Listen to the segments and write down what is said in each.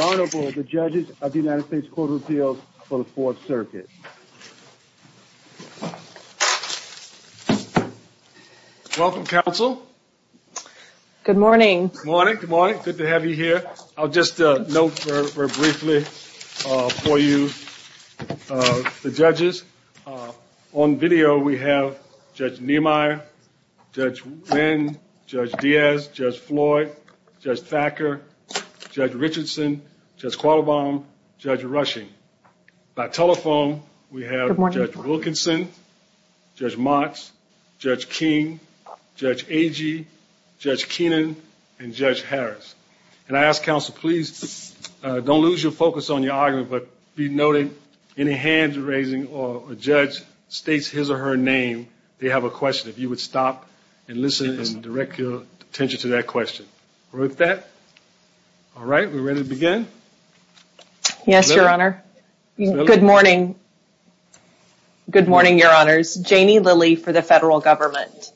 Honorable, the Judges of the United States Court of Appeals for the Fourth Circuit. Welcome, Council. Good morning. Good morning. Good morning. Good to have you here. I'll just note very briefly for you the judges. On video, we have Judge Niemeyer, Judge Nguyen, Judge Diaz, Judge Floyd, Judge Packer, Judge Richardson, Judge Qualbaum, Judge Rushing. By telephone, we have Judge Wilkinson, Judge Motts, Judge King, Judge Agee, Judge Keenan, and Judge Harris. And I ask, Council, please don't lose your focus on your argument, but be noted any hands raising or a judge states his or her name, they have a question. If you would stop and listen and direct your attention to that question. With that, all right, we're ready to begin. Yes, Your Honor. Good morning. Good morning, Your Honors. My name is Jamie Lilly for the Federal Government.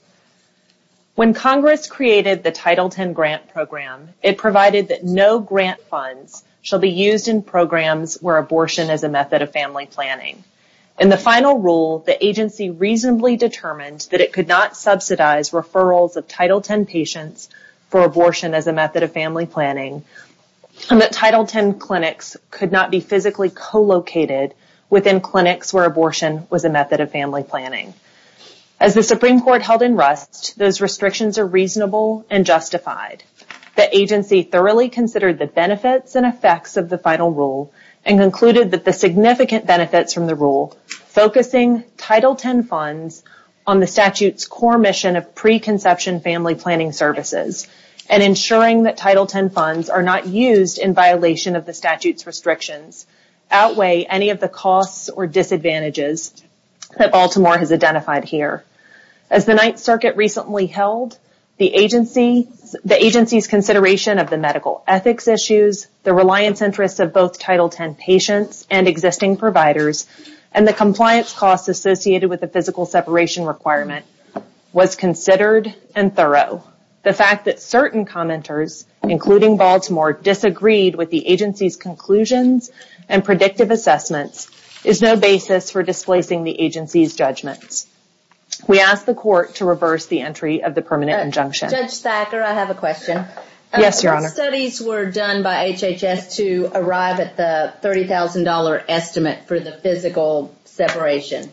When Congress created the Title X grant program, it provided that no grant funds shall be used in programs where abortion is a method of family planning. In the final rule, the agency reasonably determined that it could not subsidize referrals of Title X patients for abortion as a method of family planning, and that Title X clinics could not be physically co-located within clinics where abortion was a method of family planning. As the Supreme Court held in rust, those restrictions are reasonable and justified. The agency thoroughly considered the benefits and effects of the final rule and concluded that the significant benefits from the rule, focusing Title X funds on the statute's core mission of preconception family planning services and ensuring that Title X funds are not used in violation of the statute's restrictions, outweigh any of the costs or disadvantages that Baltimore has identified here. As the Ninth Circuit recently held, the agency's consideration of the medical ethics issues, the reliance interests of both Title X patients and existing providers, and the compliance costs associated with the physical separation requirement was considered and thorough. The fact that certain commenters, including Baltimore, disagreed with the agency's conclusions and predictive assessments, is no basis for displacing the agency's judgment. We ask the Court to reverse the entry of the permanent injunction. Judge Thacker, I have a question. Yes, Your Honor. What studies were done by HHS to arrive at the $30,000 estimate for the physical separation?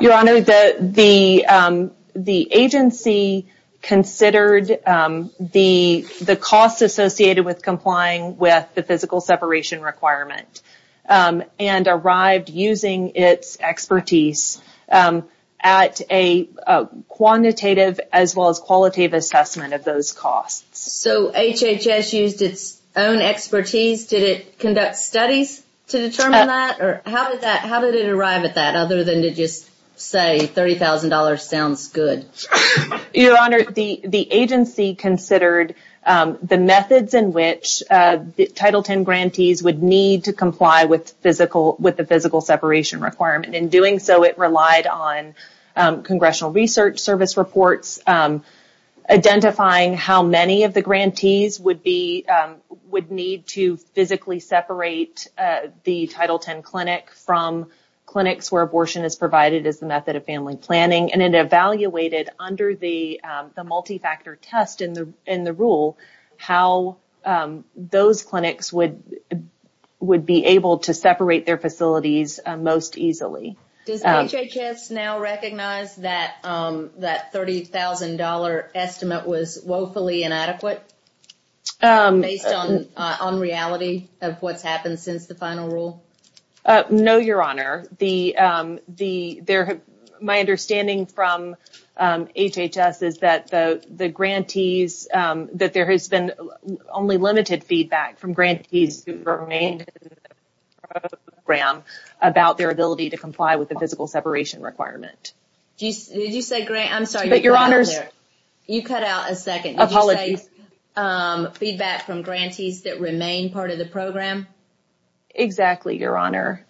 Your Honor, the agency considered the costs associated with complying with the physical separation requirement and arrived using its expertise at a quantitative as well as qualitative assessment of those costs. So HHS used its own expertise? Did it conduct studies to determine that? How did it arrive at that other than to just say $30,000 sounds good? Your Honor, the agency considered the methods in which Title X grantees would need to comply with the physical separation requirement. In doing so, it relied on congressional research service reports identifying how many of the grantees would need to physically separate the Title X clinics from clinics where abortion is provided as a method of family planning, and it evaluated under the multi-factor test in the rule how those clinics would be able to separate their facilities most easily. Does HHS now recognize that that $30,000 estimate was woefully inadequate based on reality of what's happened since the final rule? No, Your Honor. My understanding from HHS is that there has been only limited feedback from grantees who remained in the program about their ability to comply with the physical separation requirement. Did you say grant? I'm sorry. You cut out a second. Apologies. Did you say feedback from grantees that remained part of the program? Exactly, Your Honor.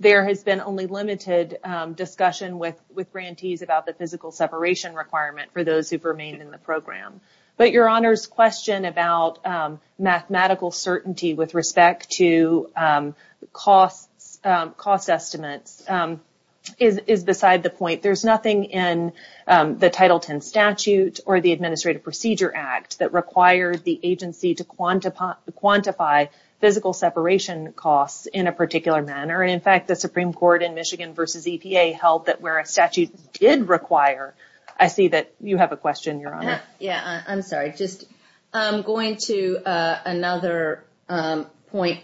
There has been only limited discussion with grantees about the physical separation requirement for those who've remained in the program. Your Honor's question about mathematical certainty with respect to cost estimates is beside the point. There's nothing in the Title X statute or the Administrative Procedure Act that requires the agency to quantify physical separation costs in a particular manner. In fact, the Supreme Court in Michigan v. EPA held that where a statute did require, I see that you have a question, Your Honor. Yeah, I'm sorry. I'm going to another point.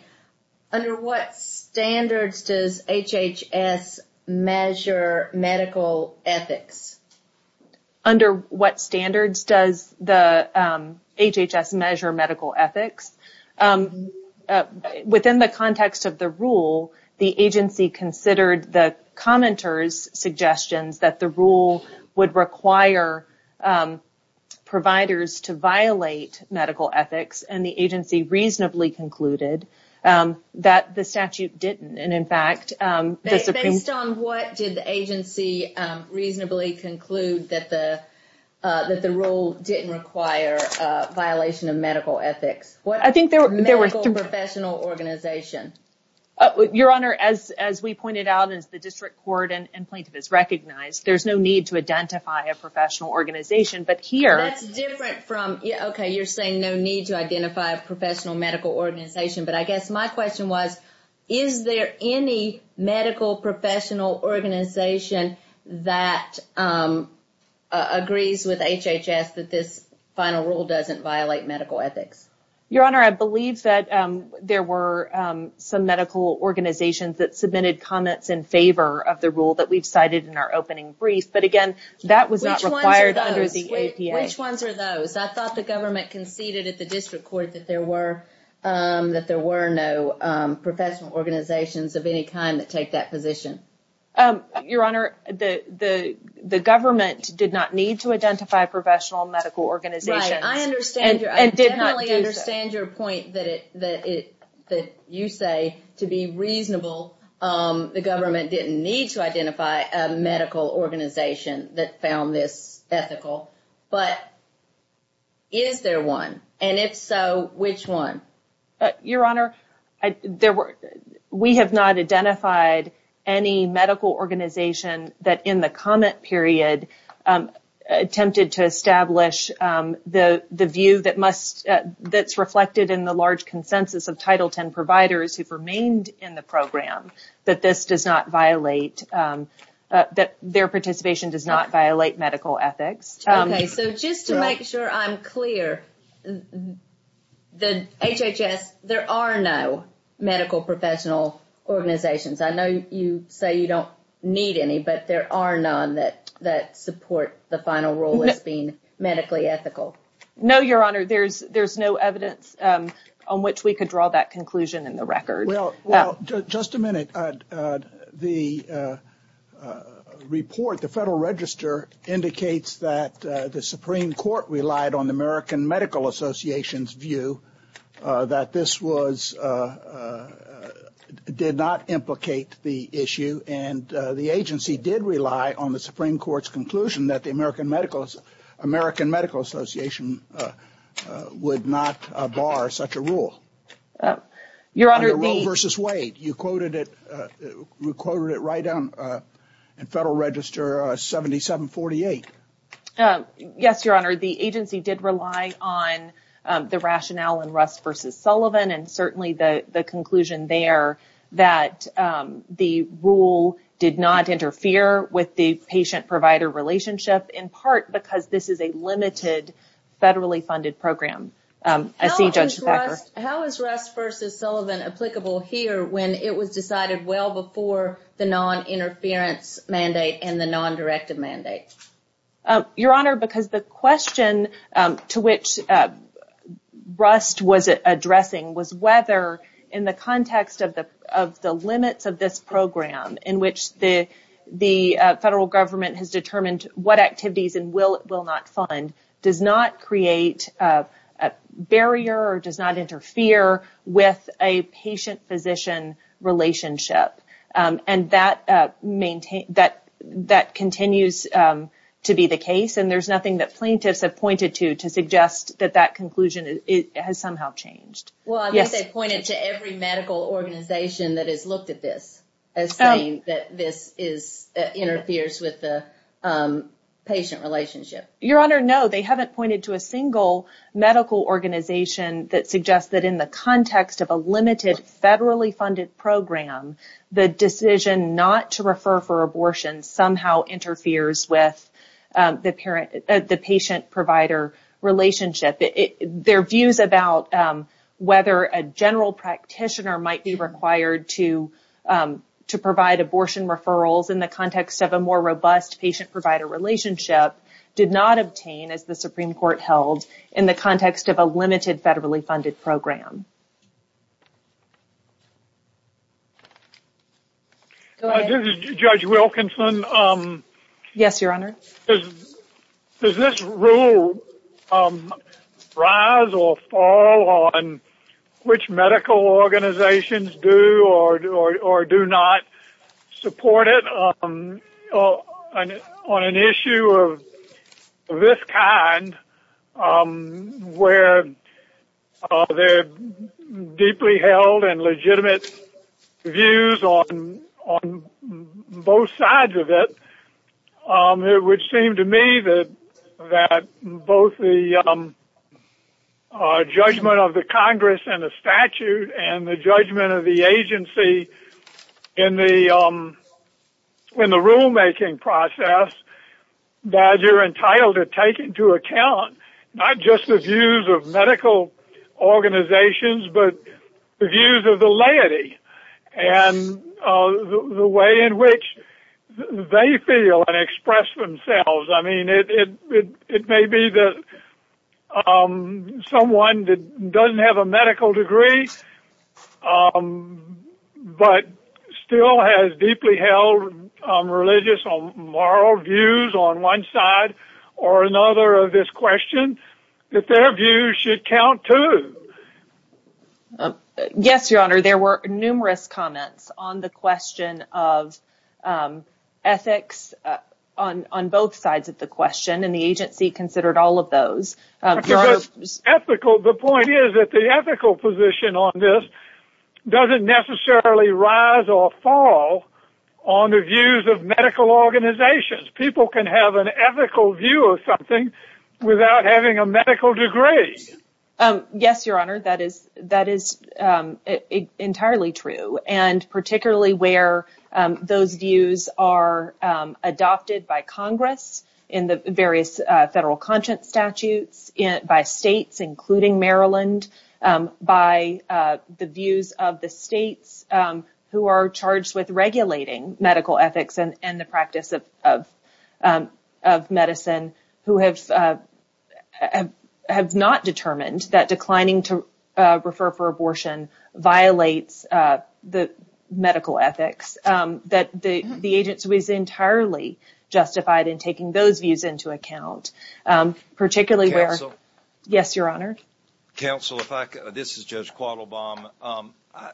Under what standards does HHS measure medical ethics? Under what standards does HHS measure medical ethics? Within the context of the rule, the agency considered the commenter's suggestion that the rule would require providers to violate medical ethics, and the agency reasonably concluded that the statute didn't. Based on what did the agency reasonably conclude that the rule didn't require violation of medical ethics? Medical professional organization. Your Honor, as we pointed out, as the district court and plaintiff has recognized, there's no need to identify a professional organization, but here… That's different from, okay, you're saying no need to identify a professional medical organization, but I guess my question was, is there any medical professional organization that agrees with HHS that this final rule doesn't violate medical ethics? Your Honor, I believe that there were some medical organizations that submitted comments in favor of the rule that we've cited in our opening brief, but, again, that was not required under the APA. Which ones are those? I thought the government conceded at the district court that there were no professional organizations of any kind that take that position. Your Honor, the government did not need to identify a professional medical organization and did not do so. I understand your point that you say, to be reasonable, the government didn't need to identify a medical organization that found this ethical. But is there one? And if so, which one? Your Honor, we have not identified any medical organization that in the comment period attempted to establish the view that must – of Title X providers who've remained in the program that this does not violate – that their participation does not violate medical ethics. Okay, so just to make sure I'm clear, the HHS – there are no medical professional organizations. I know you say you don't need any, but there are none that support the final rule as being medically ethical. No, Your Honor, there's no evidence on which we could draw that conclusion in the record. Well, just a minute. The report, the Federal Register, indicates that the Supreme Court relied on the American Medical Association's view that this was – that the American Medical Association would not bar such a rule. Your Honor, the – The rule versus way. You quoted it – you quoted it right in Federal Register 7748. Yes, Your Honor, the agency did rely on the rationale in Russ v. Sullivan and certainly the conclusion there that the rule did not interfere with the patient-provider relationship, in part because this is a limited, federally-funded program. How is Russ v. Sullivan applicable here when it was decided well before the non-interference mandate and the non-directed mandate? Your Honor, because the question to which Russ was addressing was whether, in the context of the limits of this program, in which the federal government has determined what activities and will not fund, does not create a barrier or does not interfere with a patient-physician relationship. And that maintains – that continues to be the case and there's nothing that plaintiffs have pointed to to suggest that that conclusion has somehow changed. Well, I think they've pointed to every medical organization that has looked at this as saying that this is – that interferes with the patient relationship. Your Honor, no, they haven't pointed to a single medical organization that suggests that in the context of a limited, federally-funded program, the decision not to refer for abortion somehow interferes with the patient-provider relationship. Their views about whether a general practitioner might be required to provide abortion referrals in the context of a more robust patient-provider relationship did not obtain, as the Supreme Court held, in the context of a limited, federally-funded program. This is Judge Wilkinson. Yes, Your Honor. Does this rule rise or fall on which medical organizations do or do not support it on an issue of this kind, where there are deeply held and legitimate views on both sides of it? It would seem to me that both the judgment of the Congress and the statute and the judgment of the agency in the rulemaking process, that you're entitled to take into account not just the views of medical organizations, but the views of the laity and the way in which they feel and express themselves. It may be that someone that doesn't have a medical degree, but still has deeply held religious or moral views on one side or another of this question, that their views should count, too. Yes, Your Honor. There were numerous comments on the question of ethics on both sides of the question, and the agency considered all of those. The point is that the ethical position on this doesn't necessarily rise or fall on the views of medical organizations. People can have an ethical view of something without having a medical degree. Yes, Your Honor. That is entirely true, and particularly where those views are adopted by Congress in the various federal conscience statutes, by states including Maryland, by the views of the states who are charged with regulating medical ethics and the practice of medicine, who have not determined that declining to refer for abortion violates the medical ethics, that the agency is entirely justified in taking those views into account, particularly where... Counsel. Yes, Your Honor. Counsel, this is Judge Quattlebaum. I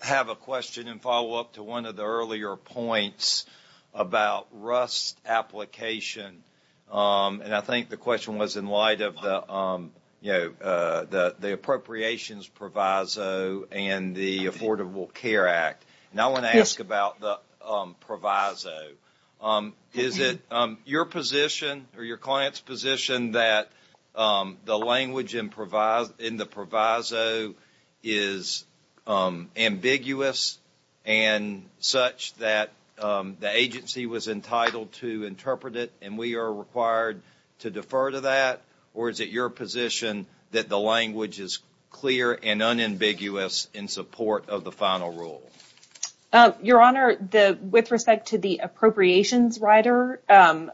have a question in follow-up to one of the earlier points about Russ' application. I think the question was in light of the Appropriations Proviso and the Affordable Care Act. I want to ask about the Proviso. Is it your position or your client's position that the language in the Proviso is ambiguous and such that the agency was entitled to interpret it and we are required to defer to that, or is it your position that the language is clear and unambiguous in support of the final rule? Your Honor, with respect to the appropriations rider on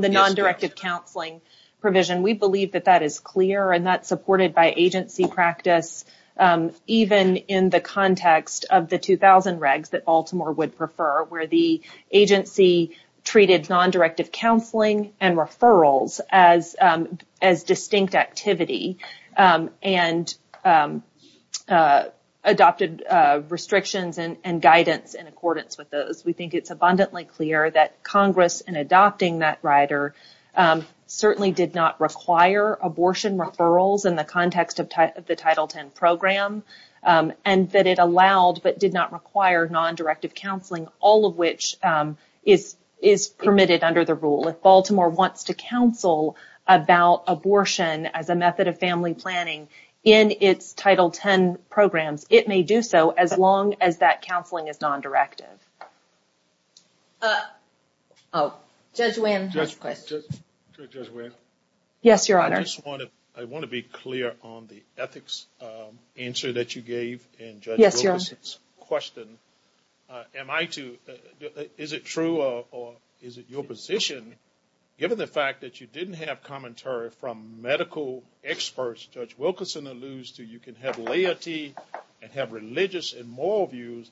the nondirective counseling provision, we believe that that is clear and that's supported by agency practice even in the context of the 2000 regs that Baltimore would prefer where the agency treated nondirective counseling and referrals as distinct activity and adopted restrictions and guidance in accordance with those. We think it's abundantly clear that Congress, in adopting that rider, certainly did not require abortion referrals in the context of the Title X program and that it allowed but did not require nondirective counseling, all of which is permitted under the rule. If Baltimore wants to counsel about abortion as a method of family planning in its Title X programs, it may do so as long as that counseling is nondirective. Judge Williams. Yes, Your Honor. I want to be clear on the ethics answer that you gave in Judge Wilkerson's question. Is it true or is it your position, given the fact that you didn't have commentary from medical experts, Judge Wilkerson alludes to you can have laity and have religious and moral views,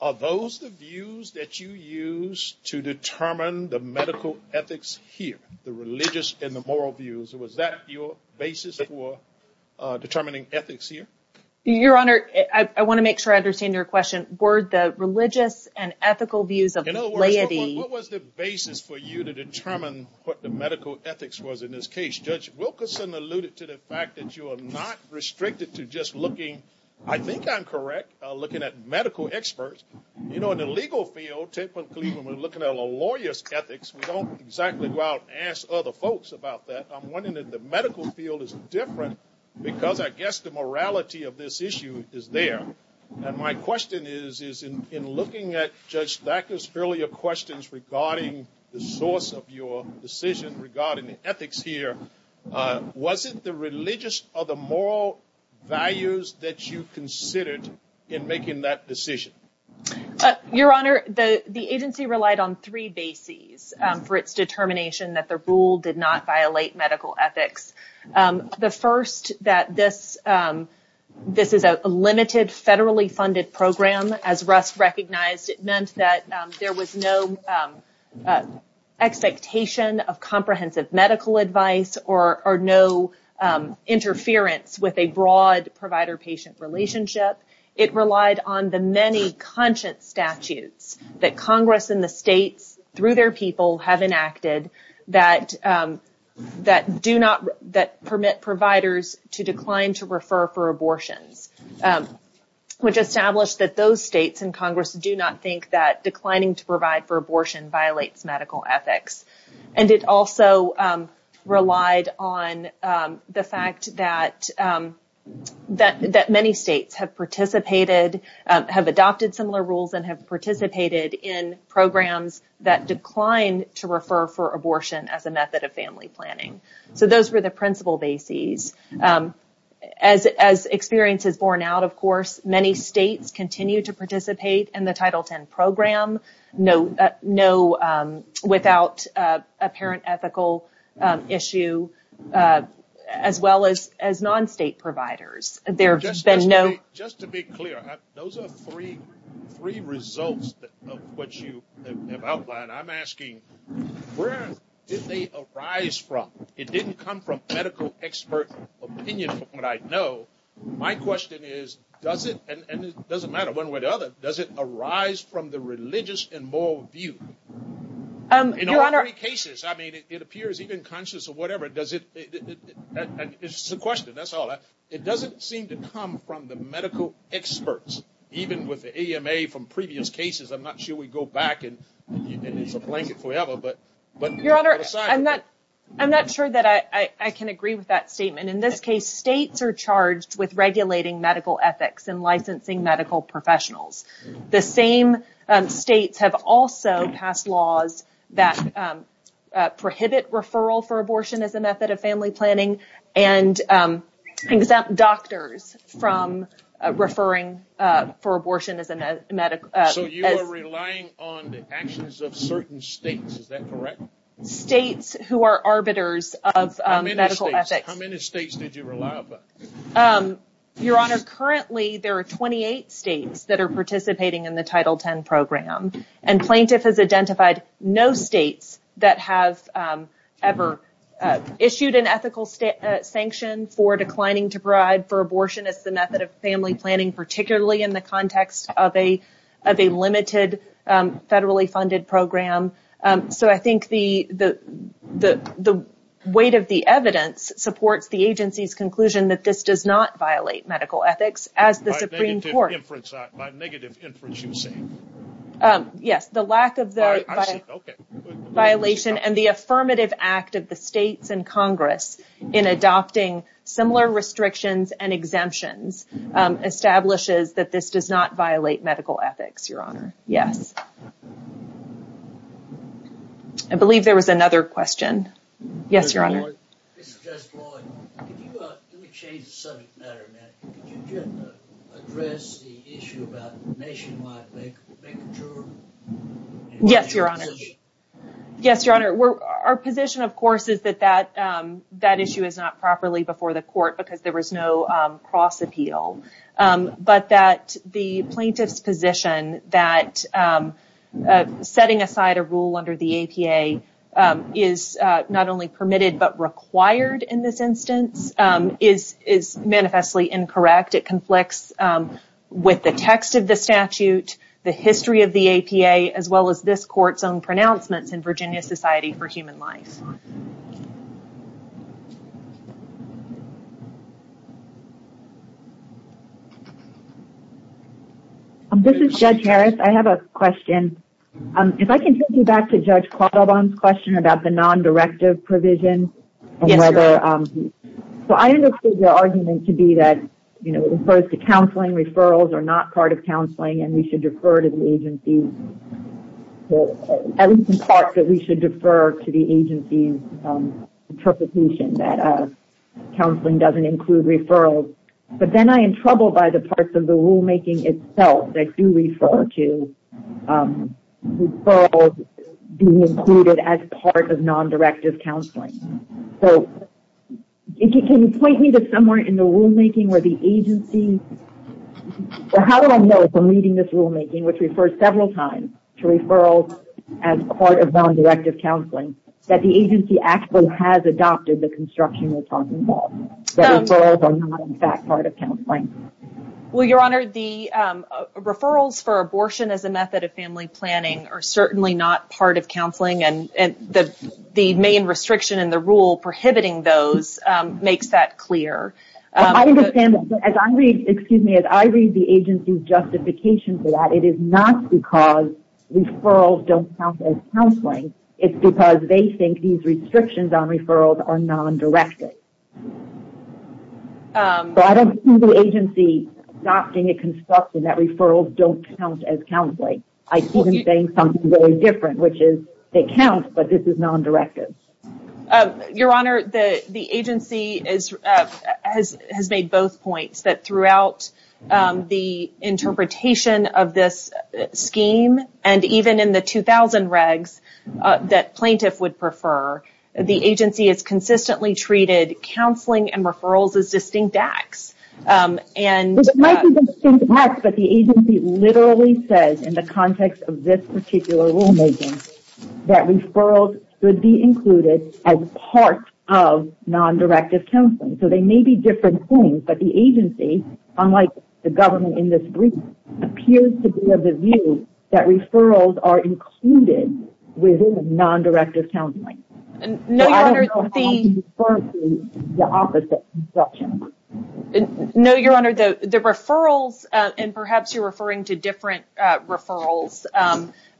are those the views that you use to determine the medical ethics here, the religious and the moral views? Was that your basis for determining ethics here? Your Honor, I want to make sure I understand your question. Were the religious and ethical views of laity. What was the basis for you to determine what the medical ethics was in this case? Judge Wilkerson alluded to the fact that you are not restricted to just looking, I think I'm correct, looking at medical experts. In the legal field, typically when we're looking at a lawyer's ethics, we don't exactly go out and ask other folks about that. I'm wondering if the medical field is different because I guess the morality of this issue is there. And my question is, in looking at Judge Thacker's earlier questions regarding the source of your decision regarding the ethics here, was it the religious or the moral values that you considered in making that decision? Your Honor, the agency relied on three bases. First, for its determination that the rule did not violate medical ethics. The first, that this is a limited, federally funded program. As Russ recognized, it meant that there was no expectation of comprehensive medical advice or no interference with a broad provider-patient relationship. It relied on the many conscience statutes that Congress and the states, through their people, have enacted that permit providers to decline to refer for abortion, which established that those states and Congress do not think that declining to provide for abortion violates medical ethics. And it also relied on the fact that many states have participated, have adopted similar rules, and have participated in programs that decline to refer for abortion as a method of family planning. So those were the principal bases. As experience has borne out, of course, many states continue to participate in the Title X program, without apparent ethical issue, as well as non-state providers. Just to be clear, those are three results of what you have outlined. I'm asking, where did they arise from? It didn't come from medical expert opinion, from what I know. My question is, does it, and it doesn't matter one way or the other, does it arise from the religious and moral view? In all three cases, I mean, it appears even conscious of whatever, does it, it's a question, that's all. It doesn't seem to come from the medical experts, even with the AMA from previous cases. I'm not sure we go back and it's a blanket forever. Your Honor, I'm not sure that I can agree with that statement. In this case, states are charged with regulating medical ethics and licensing medical professionals. The same states have also passed laws that prohibit referral for abortion as a method of family planning and exempt doctors from referring for abortion as a method. So you are relying on the actions of certain states, is that correct? States who are arbiters of medical ethics. How many states did you rely upon? Your Honor, currently there are 28 states that are participating in the Title X program, and plaintiff has identified no states that have ever issued an ethical sanction for declining to bribe for abortion as a method of family planning, particularly in the context of a limited federally funded program. So I think the weight of the evidence supports the agency's conclusion that this does not violate medical ethics. By negative inference, you say? Yes, the lack of violation and the affirmative act of the states and Congress in adopting similar restrictions and exemptions establishes that this does not violate medical ethics, Your Honor. Yes. I believe there was another question. Yes, Your Honor. Judge Floyd, can you change the subject matter a bit? Can you address the issue about nationwide bank return? Yes, Your Honor. Yes, Your Honor. Our position, of course, is that that issue is not properly before the court because there was no cross appeal, but that the plaintiff's position that setting aside a rule under the APA is not only permitted but required in this instance is manifestly incorrect. In fact, it conflicts with the text of the statute, the history of the APA, as well as this court's own pronouncements in Virginia Society for Human Life. This is Judge Harris. I have a question. If I can take you back to Judge Quaddabond's question about the non-directive provision. Yes, Your Honor. I understood your argument to be that in terms of counseling, referrals are not part of counseling, and we should defer to the agency's interpretation that counseling doesn't include referrals. But then I am troubled by the parts of the rulemaking itself that do refer to referrals being included as part of non-directive counseling. So, if you can point me to somewhere in the rulemaking where the agency, or how would I know if I'm reading this rulemaking, which refers several times to referrals as part of non-directive counseling, that the agency actually has adopted the construction of counseling, that referrals are not in fact part of counseling? Well, Your Honor, the referrals for abortion as a method of family planning are certainly not part of counseling, and the main restriction in the rule prohibiting those makes that clear. I understand. Excuse me. As I read the agency's justification for that, it is not because referrals don't count as counseling. It's because they think these restrictions on referrals are non-directive. So, I don't see the agency adopting a construction that referrals don't count as counseling. I see them saying something very different, which is they count, but this is non-directive. Your Honor, the agency has made both points, that throughout the interpretation of this scheme and even in the 2000 regs that plaintiff would prefer, the agency has consistently treated counseling and referrals as distinct acts. It might be distinct acts, but the agency literally says in the context of this particular rulemaking, that referrals should be included as part of non-directive counseling. So, they may be different things, but the agency, unlike the government in this brief, appears to be of the view that referrals are included within non-directive counseling. I don't know how to refer to the opposite construction. No, Your Honor, the referrals, and perhaps you're referring to different referrals,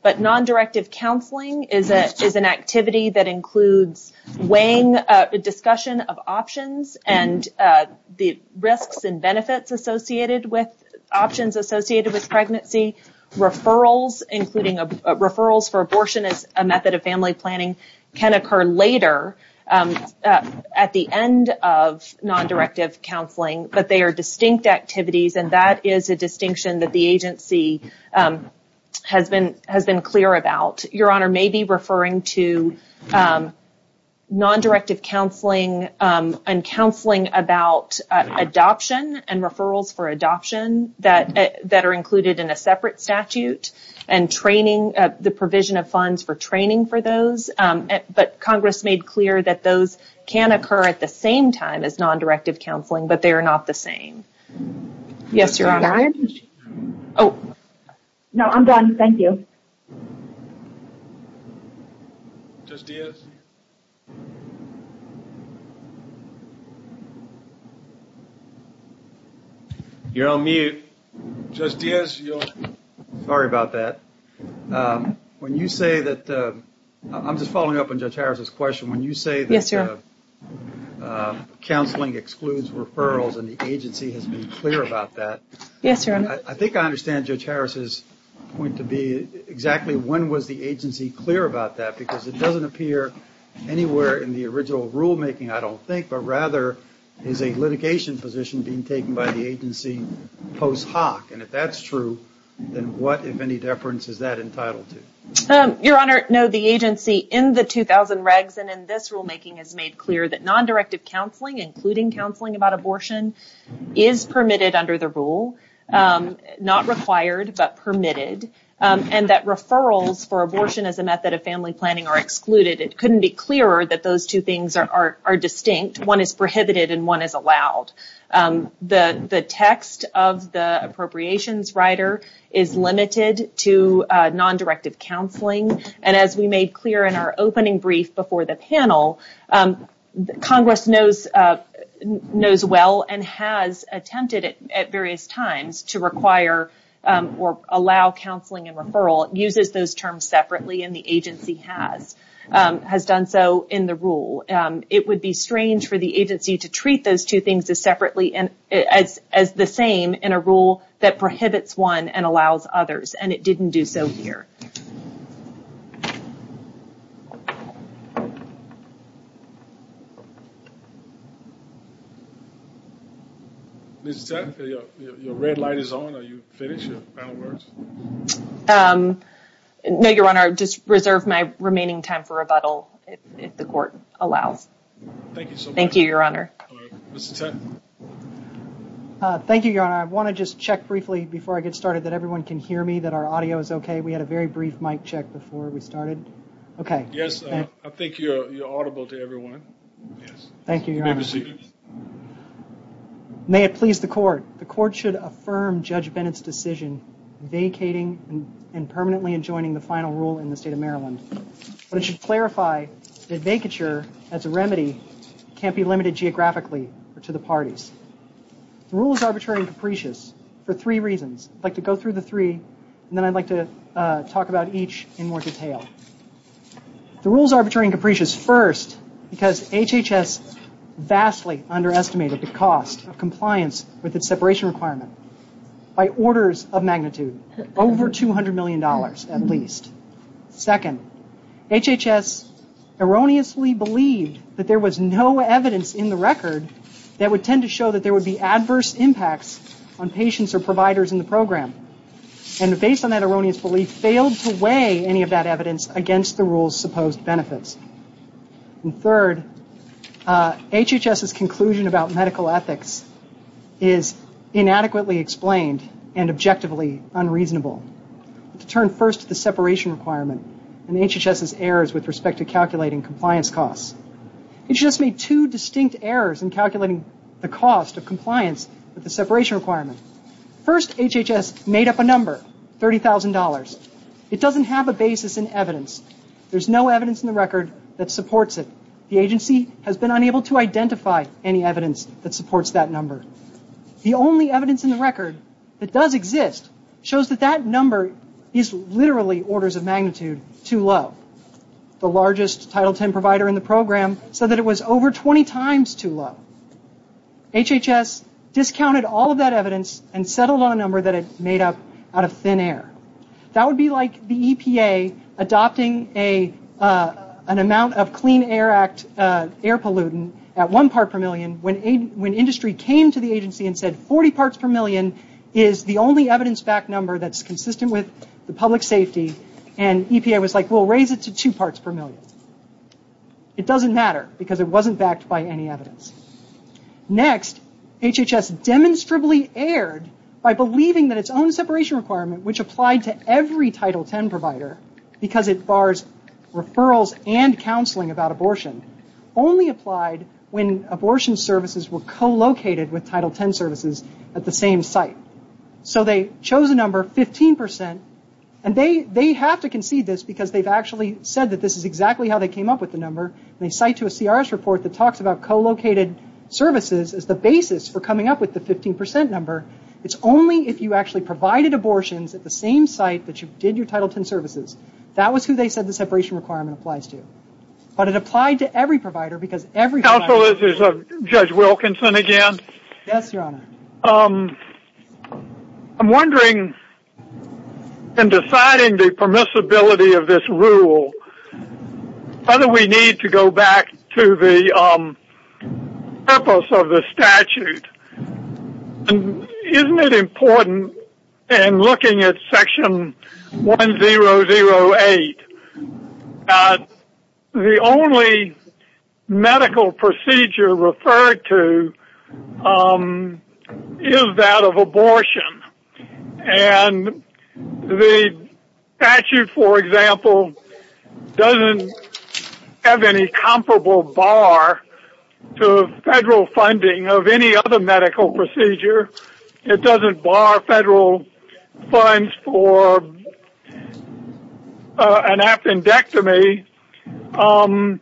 but non-directive counseling is an activity that includes weighing a discussion of options and the risks and benefits associated with options associated with pregnancy, referrals, including referrals for abortion as a method of family planning, can occur later at the end of non-directive counseling, but they are distinct activities, and that is a distinction that the agency has been clear about. Your Honor may be referring to non-directive counseling and counseling about adoption and referrals for adoption that are included in a separate statute and the provision of funds for training for those, but Congress made clear that those can occur at the same time as non-directive counseling, but they are not the same. Yes, Your Honor. No, I'm done. Thank you. Judge Diaz? You're on mute. Judge Diaz, you're on mute. Sorry about that. When you say that, I'm just following up on Judge Harris' question, when you say that counseling excludes referrals and the agency has been clear about that, I think I understand Judge Harris' point to be exactly when was the agency clear about that, because it doesn't appear anywhere in the original rulemaking, I don't think, but rather is a litigation position being taken by the agency post hoc, and if that's true, then what, if any, deference is that entitled to? Your Honor, no, the agency in the 2000 regs and in this rulemaking has made clear that non-directive counseling, including counseling about abortion, is permitted under the rule, not required but permitted, and that referrals for abortion as a method of family planning are excluded. It couldn't be clearer that those two things are distinct. One is prohibited and one is allowed. The text of the appropriations rider is limited to non-directive counseling, and as we made clear in our opening brief before the panel, Congress knows well and has attempted at various times to require or allow counseling and referral, uses those terms separately, and the agency has done so in the rule. It would be strange for the agency to treat those two things as separately, as the same in a rule that prohibits one and allows others, and it didn't do so here. Ms. Jett, your red light is on. Are you finished? Your final words? No, Your Honor, just reserve my remaining time for rebuttal if the court allows. Thank you so much. Thank you, Your Honor. Ms. Jett? Thank you, Your Honor. I want to just check briefly before I get started that everyone can hear me, that our audio is okay. We had a very brief mic check before we started. Okay. Yes, I think you're audible to everyone. Thank you, Your Honor. Good to see you. May it please the court, the court should affirm Judge Bennett's decision vacating and permanently enjoining the final rule in the state of Maryland. We should clarify that vacature as a remedy can't be limited geographically to the parties. The rule is arbitrary and capricious for three reasons. I'd like to go through the three, and then I'd like to talk about each in more detail. The rule is arbitrary and capricious first because HHS vastly underestimated the cost of compliance with its separation requirement by orders of magnitude, over $200 million at least. Second, HHS erroneously believed that there was no evidence in the record that would tend to show that there would be adverse impacts on patients or providers in the program. And based on that erroneous belief, failed to weigh any of that evidence against the rule's supposed benefits. And third, HHS's conclusion about medical ethics is inadequately explained and objectively unreasonable. To turn first to the separation requirement and HHS's errors with respect to calculating compliance costs. HHS made two distinct errors in calculating the cost of compliance with the separation requirement. First, HHS made up a number, $30,000. It doesn't have a basis in evidence. There's no evidence in the record that supports it. The agency has been unable to identify any evidence that supports that number. The only evidence in the record that does exist shows that that number is literally orders of magnitude too low. The largest Title 10 provider in the program said that it was over 20 times too low. HHS discounted all of that evidence and set a low number that it made up out of thin air. That would be like the EPA adopting an amount of Clean Air Act air pollutant at one part per million when industry came to the agency and said 40 parts per million is the only evidence-backed number that's consistent with the public safety. And EPA was like, we'll raise it to two parts per million. It doesn't matter because it wasn't backed by any evidence. Next, HHS demonstrably erred by believing that its own separation requirement, which applied to every Title 10 provider because it bars referrals and counseling about abortion, only applied when abortion services were co-located with Title 10 services at the same site. So they chose a number of 15%. And they have to concede this because they've actually said that this is exactly how they came up with the number. They cite to a CRS report that talks about co-located services as the basis for coming up with the 15% number. It's only if you actually provided abortions at the same site that you did your Title 10 services. That was who they said the separation requirement applies to. But it applied to every provider because every provider. Counsel, this is Judge Wilkinson again. Yes, Your Honor. I'm wondering, in deciding the permissibility of this rule, whether we need to go back to the purpose of the statute. Isn't it important in looking at Section 1008 that the only medical procedure referred to is that of abortion? And the statute, for example, doesn't have any comparable bar to federal funding of any other medical procedure. It doesn't bar federal funds for an appendectomy. And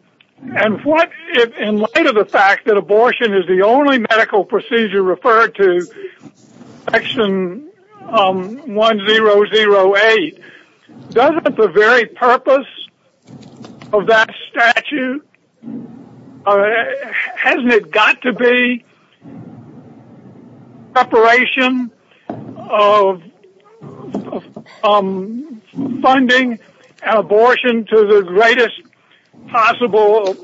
in light of the fact that abortion is the only medical procedure referred to in Section 1008, doesn't the very purpose of that statute, hasn't it got to be preparation of funding abortion to the greatest possible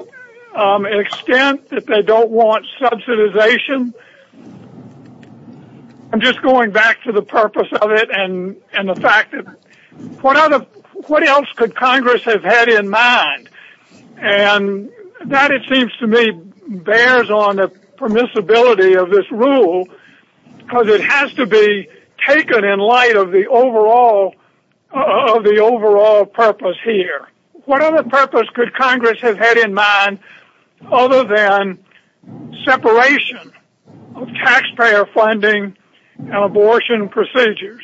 extent that they don't want subsidization? I'm just going back to the purpose of it and the fact that what else could Congress have had in mind? And that, it seems to me, bears on the permissibility of this rule because it has to be taken in light of the overall purpose here. What other purpose could Congress have had in mind other than separation of taxpayer funding and abortion procedures?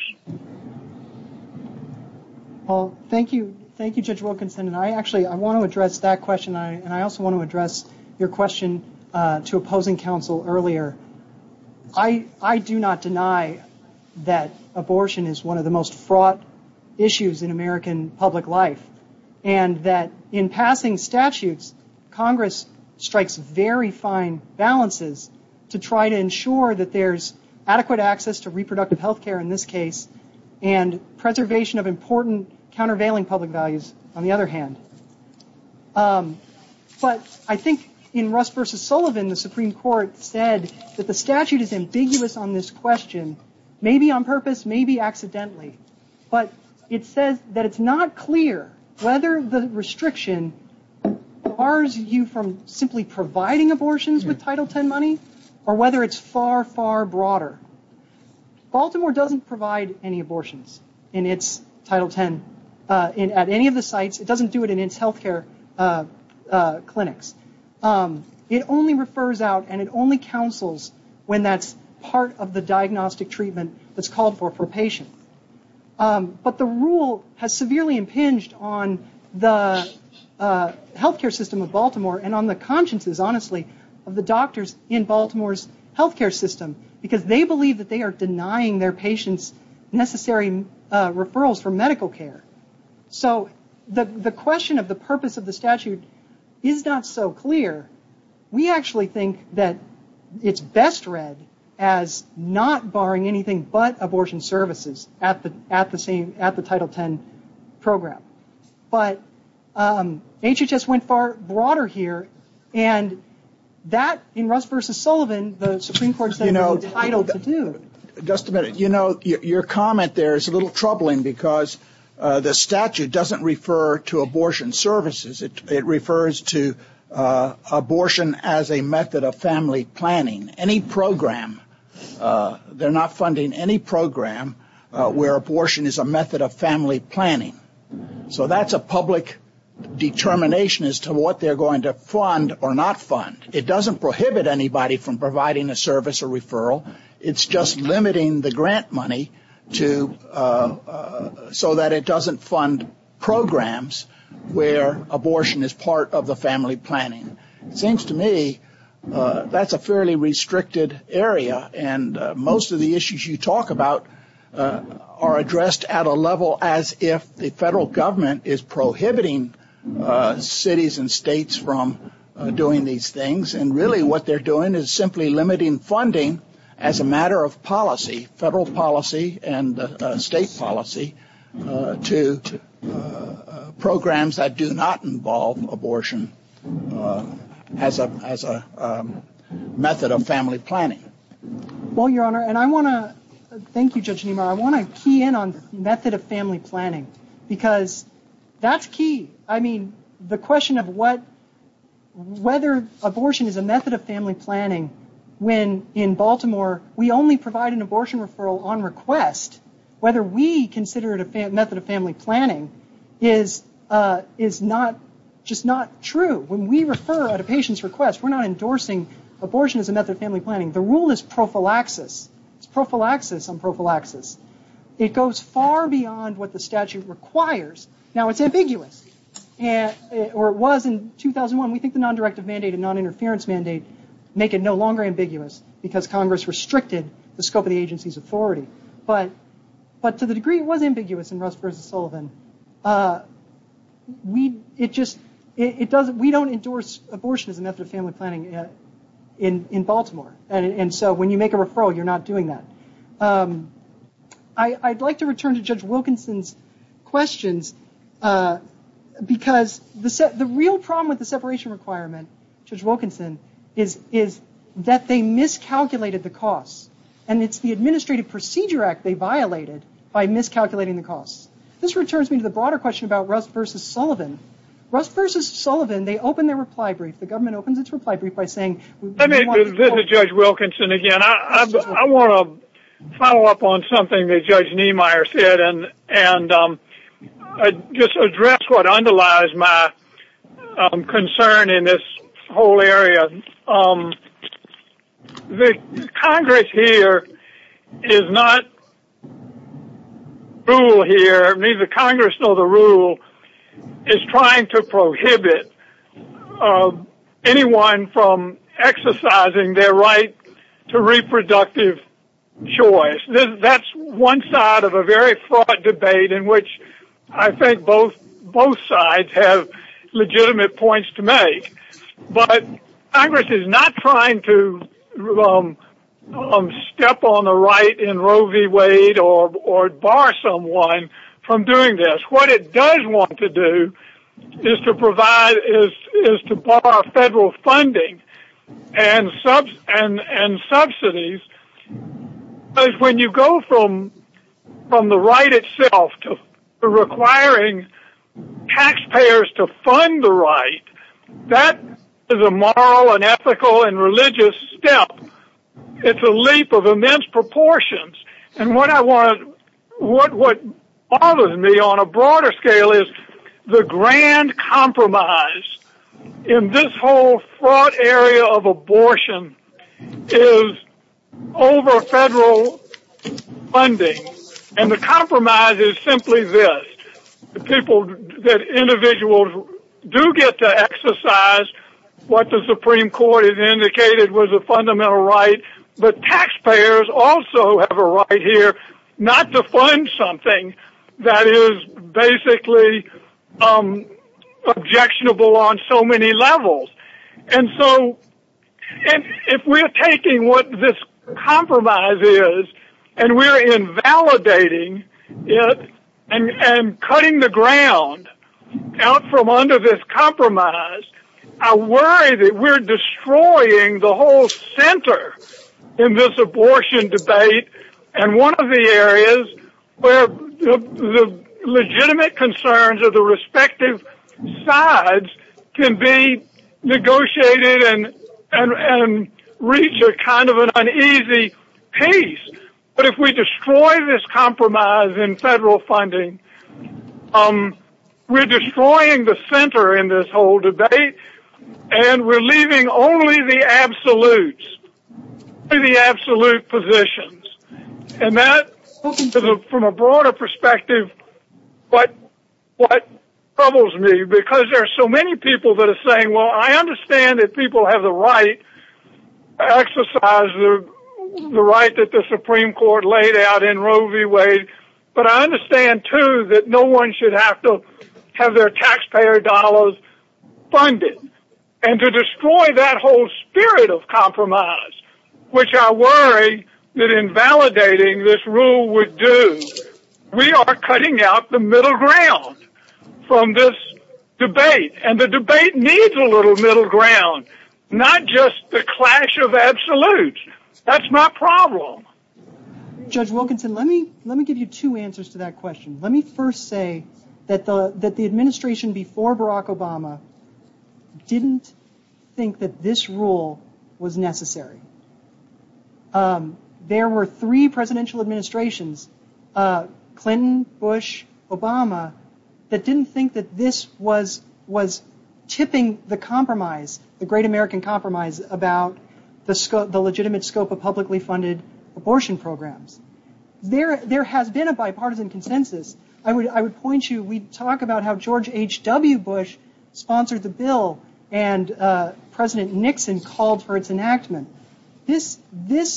Thank you, Judge Wilkinson. I actually want to address that question and I also want to address your question to opposing counsel earlier. I do not deny that abortion is one of the most fraught issues in American public life and that in passing statutes, Congress strikes very fine balances to try to ensure that there's adequate access to reproductive health care in this case and preservation of important countervailing public values, on the other hand. But I think in Russ v. Sullivan, the Supreme Court said that the statute is ambiguous on this question, maybe on purpose, maybe accidentally, but it says that it's not clear whether the restriction bars you from simply providing abortions with Title X money or whether it's far, far broader. Baltimore doesn't provide any abortions in its Title X at any of the sites. It doesn't do it in its health care clinics. It only refers out and it only counsels when that's part of the diagnostic treatment that's called for for a patient. But the rule has severely impinged on the health care system of Baltimore and on the consciences, honestly, of the doctors in Baltimore's health care system because they believe that they are denying their patients necessary referrals for medical care. So the question of the purpose of the statute is not so clear. We actually think that it's best read as not barring anything but abortion services at the Title X program. But HHS went far broader here and that in Russ v. Sullivan, the Supreme Court said no title to do it. Just a minute. You know, your comment there is a little troubling because the statute doesn't refer to abortion services. It refers to abortion as a method of family planning. Any program, they're not funding any program where abortion is a method of family planning. So that's a public determination as to what they're going to fund or not fund. It doesn't prohibit anybody from providing a service or referral. It's just limiting the grant money so that it doesn't fund programs where abortion is part of the family planning. It seems to me that's a fairly restricted area and most of the issues you talk about are addressed at a level as if the federal government is prohibiting cities and states from doing these things. And really what they're doing is simply limiting funding as a matter of policy, federal policy and state policy, to programs that do not involve abortion as a method of family planning. Well, Your Honor, and I want to, thank you Judge Nemar, I want to key in on method of family planning. Because that's key. I mean, the question of what, whether abortion is a method of family planning, when in Baltimore we only provide an abortion referral on request, whether we consider it a method of family planning is just not true. When we refer at a patient's request we're not endorsing abortion as a method of family planning. The rule is prophylaxis. It's prophylaxis on prophylaxis. It goes far beyond what the statute requires. Now it's ambiguous, or it was in 2001. We think the non-directive mandate and non-interference mandate make it no longer ambiguous because Congress restricted the scope of the agency's authority. But to the degree it was ambiguous in Russ versus Sullivan, we don't endorse abortion as a method of family planning in Baltimore. And so when you make a referral you're not doing that. I'd like to return to Judge Wilkinson's questions because the real problem with the separation requirement, Judge Wilkinson, is that they miscalculated the costs. And it's the Administrative Procedure Act they violated by miscalculating the costs. This returns me to the broader question about Russ versus Sullivan. Russ versus Sullivan, they opened their reply brief. The government opened its reply brief by saying... This is Judge Wilkinson again. I want to follow up on something that Judge Niemeyer said and just address what underlies my concern in this whole area. The Congress here is not brutal here. Neither Congress nor the rule is trying to prohibit anyone from exercising their right to reproductive choice. That's one side of a very fraught debate in which I think both sides have legitimate points to make. But Congress is not trying to step on the right in Roe v. Wade or bar someone from doing this. What it does want to do is to bar federal funding and subsidies because when you go from the right itself to requiring taxpayers to fund the right, that is a moral and ethical and religious step. It's a leap of immense proportions. And what bothers me on a broader scale is the grand compromise in this whole fraught area of abortion is over federal funding. And the compromise is simply this. Individuals do get to exercise what the Supreme Court has indicated was a fundamental right, but taxpayers also have a right here not to fund something that is basically objectionable on so many levels. And so if we're taking what this compromise is and we're invalidating it and cutting the ground out from under this compromise, I worry that we're destroying the whole center in this abortion debate and one of the areas where the legitimate concerns of the respective sides can be negotiated and reach a kind of an uneasy pace. But if we destroy this compromise in federal funding, we're destroying the center in this whole debate and we're leaving only the absolutes, only the absolute positions. And that, from a broader perspective, is what troubles me because there are so many people that are saying, well, I understand that people have the right, exercise the right that the Supreme Court laid out in Roe v. Wade, but I understand, too, that no one should have to have their taxpayer dollars funded. And to destroy that whole spirit of compromise, which I worry that invalidating this rule would do, we are cutting out the middle ground from this debate and the debate needs a little middle ground, not just the clash of absolutes. That's my problem. Judge Wilkinson, let me give you two answers to that question. Let me first say that the administration before Barack Obama didn't think that this rule was necessary. There were three presidential administrations, Clinton, Bush, Obama, that didn't think that this was tipping the compromise, the great American compromise about the legitimate scope of publicly funded abortion programs. There has been a bipartisan consensus. I would point you, we talk about how George H.W. Bush sponsored the bill and President Nixon called for its enactment. This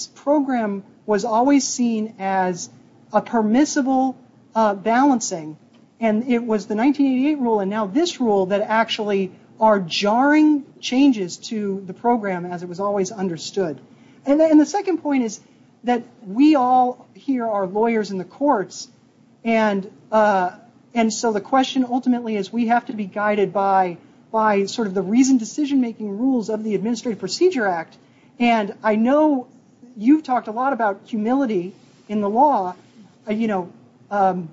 program was always seen as a permissible balancing and it was the 1988 rule and now this rule that actually are jarring changes to the program as it was always understood. And the second point is that we all here are lawyers in the courts and so the question ultimately is we have to be guided by the reasoned decision-making rules of the Administrative Procedure Act and I know you've talked a lot about humility in the law. You know,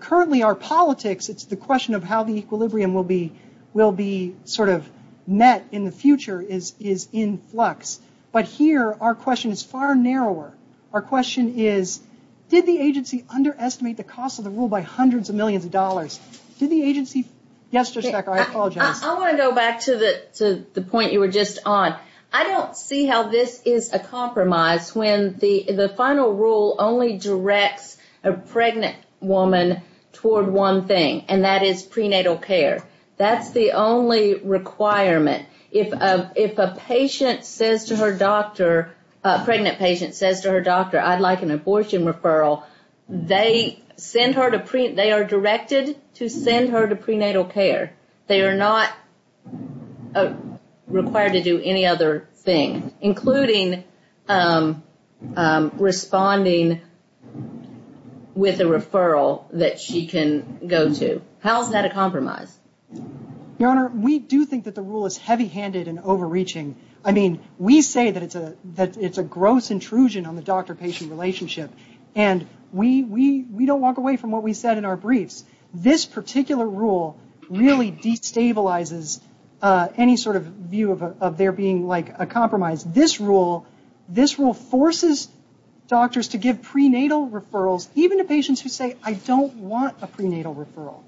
currently our politics, it's the question of how the equilibrium will be sort of met in the future is in flux. But here our question is far narrower. Our question is did the agency underestimate the cost of the rule by hundreds of millions of dollars? Did the agency... Yes, Judge Becker, I apologize. I want to go back to the point you were just on. I don't see how this is a compromise when the final rule only directs a pregnant woman toward one thing and that is prenatal care. That's the only requirement. If a patient says to her doctor, a pregnant patient says to her doctor, I'd like an abortion referral, they are directed to send her to prenatal care. They are not required to do any other thing including responding with a referral that she can go to. How is that a compromise? Your Honor, we do think that the rule is heavy-handed and overreaching. I mean, we say that it's a gross intrusion on the doctor-patient relationship and we don't walk away from what we said in our briefs. This particular rule really destabilizes any sort of view of there being a compromise. This rule forces doctors to give prenatal referrals even to patients who say, I don't want a prenatal referral.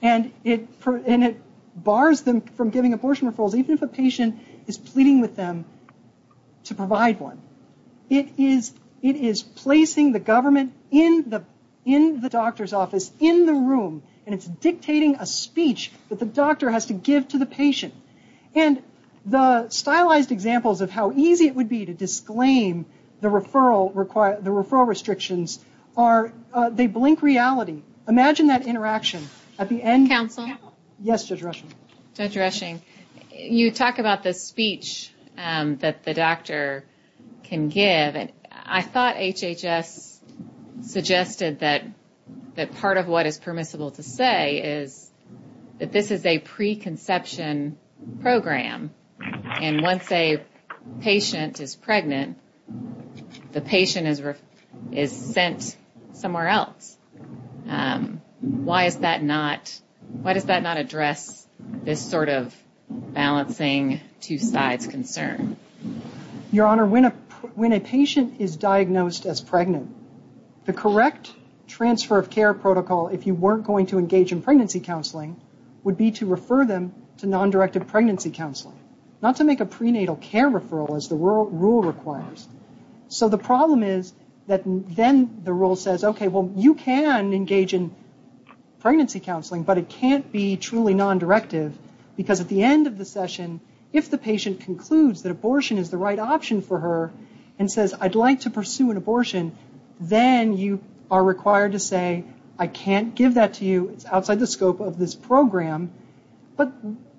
And it bars them from giving abortion referrals even if a patient is pleading with them to provide one. It is placing the government in the doctor's office, in the room, and it's dictating a speech that the doctor has to give to the patient. And the stylized examples of how easy it would be to disclaim the referral restrictions are, they blink reality. Imagine that interaction at the end. Counselor? Yes, Judge Reshing. Judge Reshing. You talk about the speech that the doctor can give. I thought HHS suggested that part of what is permissible to say is that this is a preconception program. And once a patient is pregnant, the patient is sent somewhere else. Why does that not address this sort of balancing two sides concern? Your Honor, when a patient is diagnosed as pregnant, the correct transfer of care protocol, if you weren't going to engage in pregnancy counseling, would be to refer them to nondirected pregnancy counseling, not to make a prenatal care referral as the rule requires. So the problem is that then the rule says, okay, well, you can engage in pregnancy counseling, but it can't be truly nondirected. Because at the end of the session, if the patient concludes that abortion is the right option for her and says, I'd like to pursue an abortion, then you are required to say, I can't give that to you outside the scope of this program. But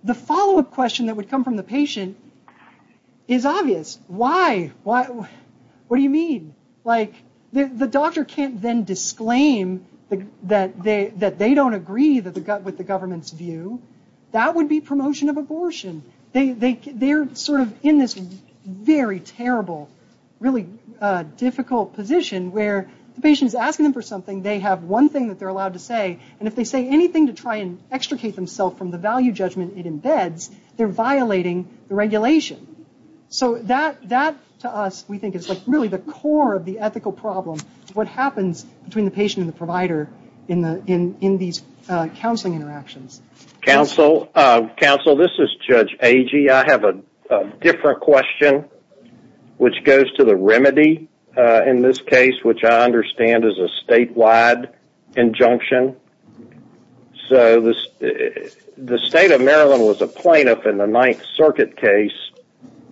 the follow-up question that would come from the patient is obvious. Why? What do you mean? The doctor can't then disclaim that they don't agree with the government's view. That would be promotion of abortion. They're sort of in this very terrible, really difficult position where the patient is asking them for something, they have one thing that they're allowed to say, and if they say anything to try and extricate themselves from the value judgment it embeds, they're violating the regulation. So that, to us, we think is really the core of the ethical problem, what happens between the patient and the provider in these counseling interactions. Counsel, this is Judge Agee. I have a different question which goes to the remedy in this case, which I understand is a statewide injunction. So the state of Maryland was a plaintiff in the Ninth Circuit case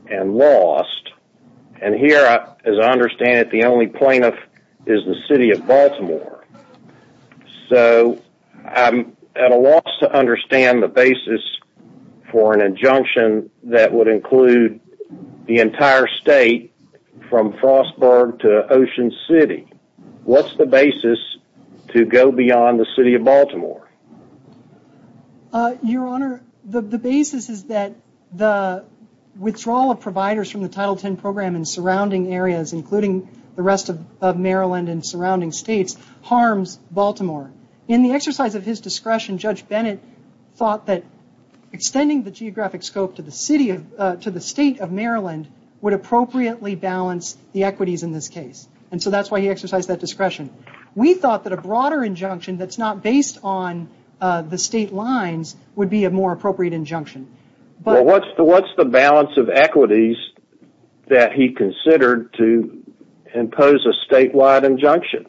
and lost. And here, as I understand it, the only plaintiff is the city of Baltimore. So I'm at a loss to understand the basis for an injunction that would include the entire state, from Frostburg to Ocean City. What's the basis to go beyond the city of Baltimore? Your Honor, the basis is that the withdrawal of providers from the Title X program in surrounding areas, including the rest of Maryland and surrounding states, harms Baltimore. In the exercise of his discretion, Judge Bennett thought that extending the geographic scope to the state of Maryland would appropriately balance the equities in this case. And so that's why he exercised that discretion. We thought that a broader injunction that's not based on the state lines would be a more appropriate injunction. Well, what's the balance of equities that he considered to impose a statewide injunction?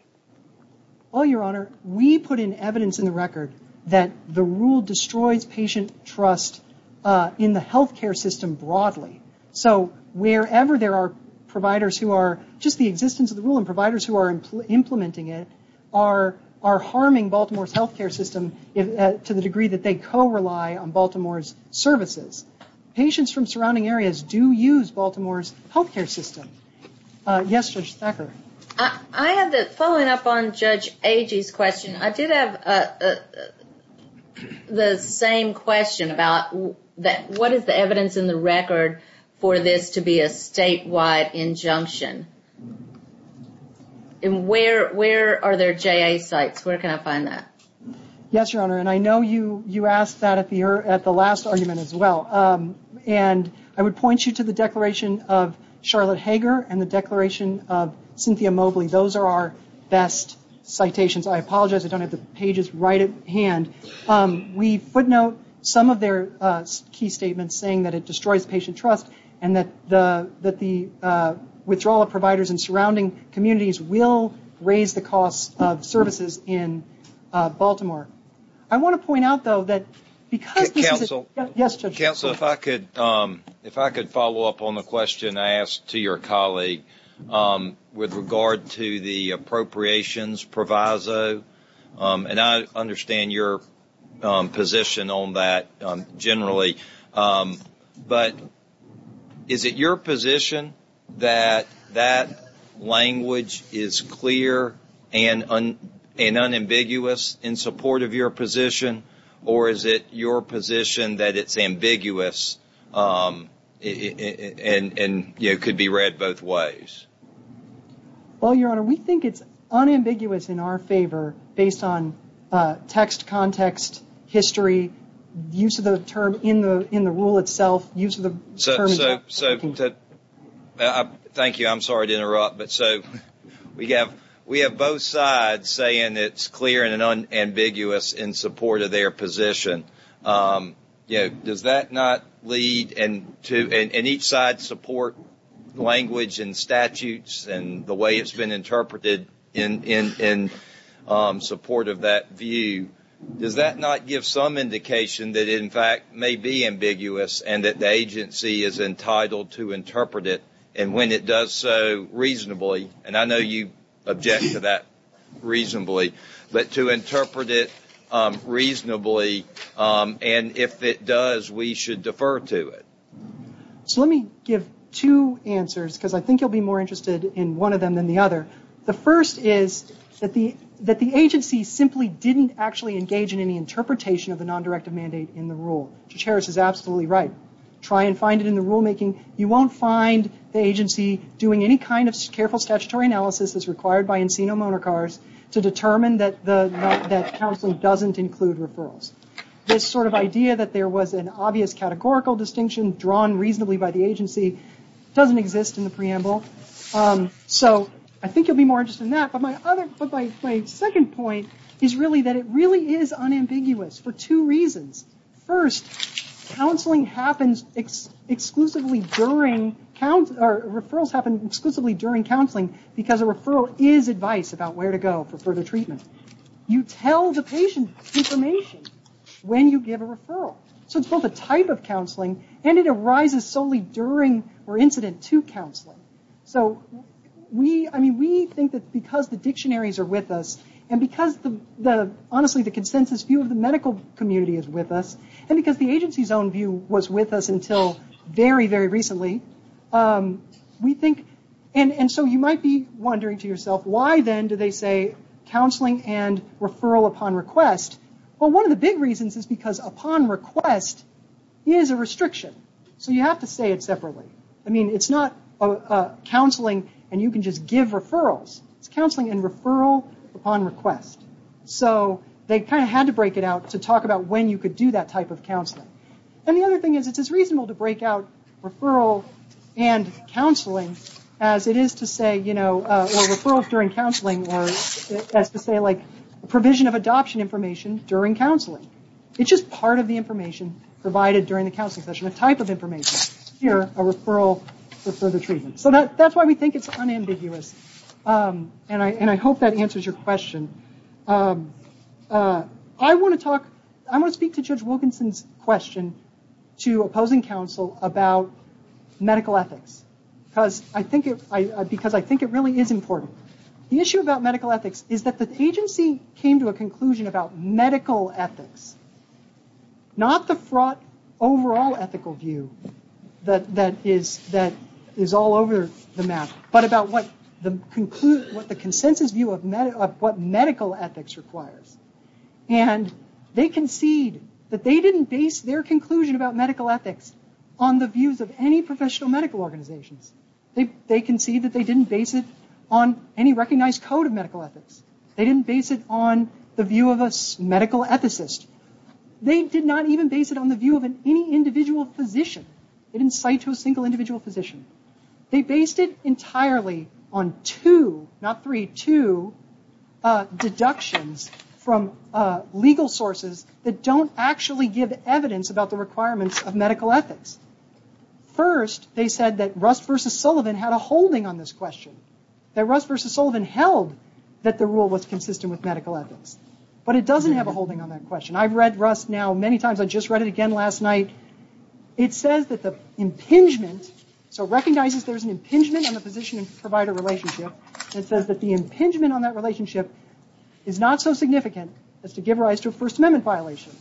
Well, Your Honor, we put in evidence in the record that the rule destroys patient trust in the healthcare system broadly. So wherever there are providers who are, just the existence of the rule and providers who are implementing it, are harming Baltimore's healthcare system to the degree that they co-rely on Baltimore's services. Patients from surrounding areas do use Baltimore's healthcare system. Yes, Judge Stepper? I did have the same question about what is the evidence in the record for this to be a statewide injunction? Where are there JA sites? Where can I find that? Yes, Your Honor, and I know you asked that at the last argument as well. And I would point you to the Declaration of Charlotte Hager and the Declaration of Cynthia Mobley. Those are our best citations. I apologize, I don't have the pages right at hand. We footnote some of their key statements saying that it destroys patient trust and that the withdrawal of providers in surrounding communities will raise the cost of services in Baltimore. I want to point out, though, that because- Counsel. Yes, Judge? Counsel, if I could follow up on the question I asked to your colleague with regard to the appropriations proviso, and I understand your position on that generally, but is it your position that that language is clear and unambiguous in support of your position, or is it your position that it's ambiguous and could be read both ways? Well, Your Honor, we think it's unambiguous in our favor based on text, context, history, use of the term in the rule itself, use of the term- Thank you, I'm sorry to interrupt. We have both sides saying it's clear and unambiguous in support of their position. Does that not lead- and each side supports language and statutes and the way it's been interpreted in support of that view. Does that not give some indication that it in fact may be ambiguous and that the agency is entitled to interpret it, and when it does so, reasonably, and I know you object to that reasonably, but to interpret it reasonably, and if it does, we should defer to it. So let me give two answers, because I think you'll be more interested in one of them than the other. The first is that the agency simply didn't actually engage in any interpretation of the non-directive mandate in the rule. Judge Harris is absolutely right. Try and find it in the rulemaking. You won't find the agency doing any kind of careful statutory analysis as required by Ensino-Monacar to determine that counseling doesn't include referrals. This sort of idea that there was an obvious categorical distinction drawn reasonably by the agency doesn't exist in the preamble. So I think you'll be more interested in that, but my second point is really that it really is unambiguous for two reasons. First, referrals happen exclusively during counseling because a referral is advice about where to go for further treatment. You tell the patient information when you give a referral. So it's both a type of counseling, and it arises solely during or incident to counseling. So we think that because the dictionaries are with us, and because, honestly, the consensus view of the medical community is with us, and because the agency's own view was with us until very, very recently, we think, and so you might be wondering to yourself, why then do they say counseling and referral upon request? Well, one of the big reasons is because upon request is a restriction. So you have to say it separately. I mean, it's not counseling and you can just give referrals. It's counseling and referral upon request. So they kind of had to break it out to talk about when you could do that type of counseling. And the other thing is it's as reasonable to break out referral and counseling as it is to say, you know, referrals during counseling or as to say, like, provision of adoption information during counseling. It's just part of the information provided during the counseling session, a type of information. Here, a referral for further treatment. So that's why we think it's unambiguous, and I hope that answers your question. I want to speak to Judge Wilkinson's question to opposing counsel about medical ethics because I think it really is important. The issue about medical ethics is that the agency came to a conclusion about medical ethics, not the fraught overall ethical view that is all over the map, but about what the consensus view of what medical ethics requires. And they concede that they didn't base their conclusion about medical ethics on the views of any professional medical organization. They concede that they didn't base it on any recognized code of medical ethics. They didn't base it on the view of a medical ethicist. They did not even base it on the view of any individual physician. They didn't cite to a single individual physician. They based it entirely on two, not three, two deductions from legal sources that don't actually give evidence about the requirements of medical ethics. First, they said that Russ versus Sullivan had a holding on this question, that Russ versus Sullivan held that the rule was consistent with medical ethics. But it doesn't have a holding on that question. I've read Russ now many times. I just read it again last night. It says that the impingement, so recognizes there's an impingement on the physician-provider relationship. It says that the impingement on that relationship is not so significant as to give rise to a First Amendment violation.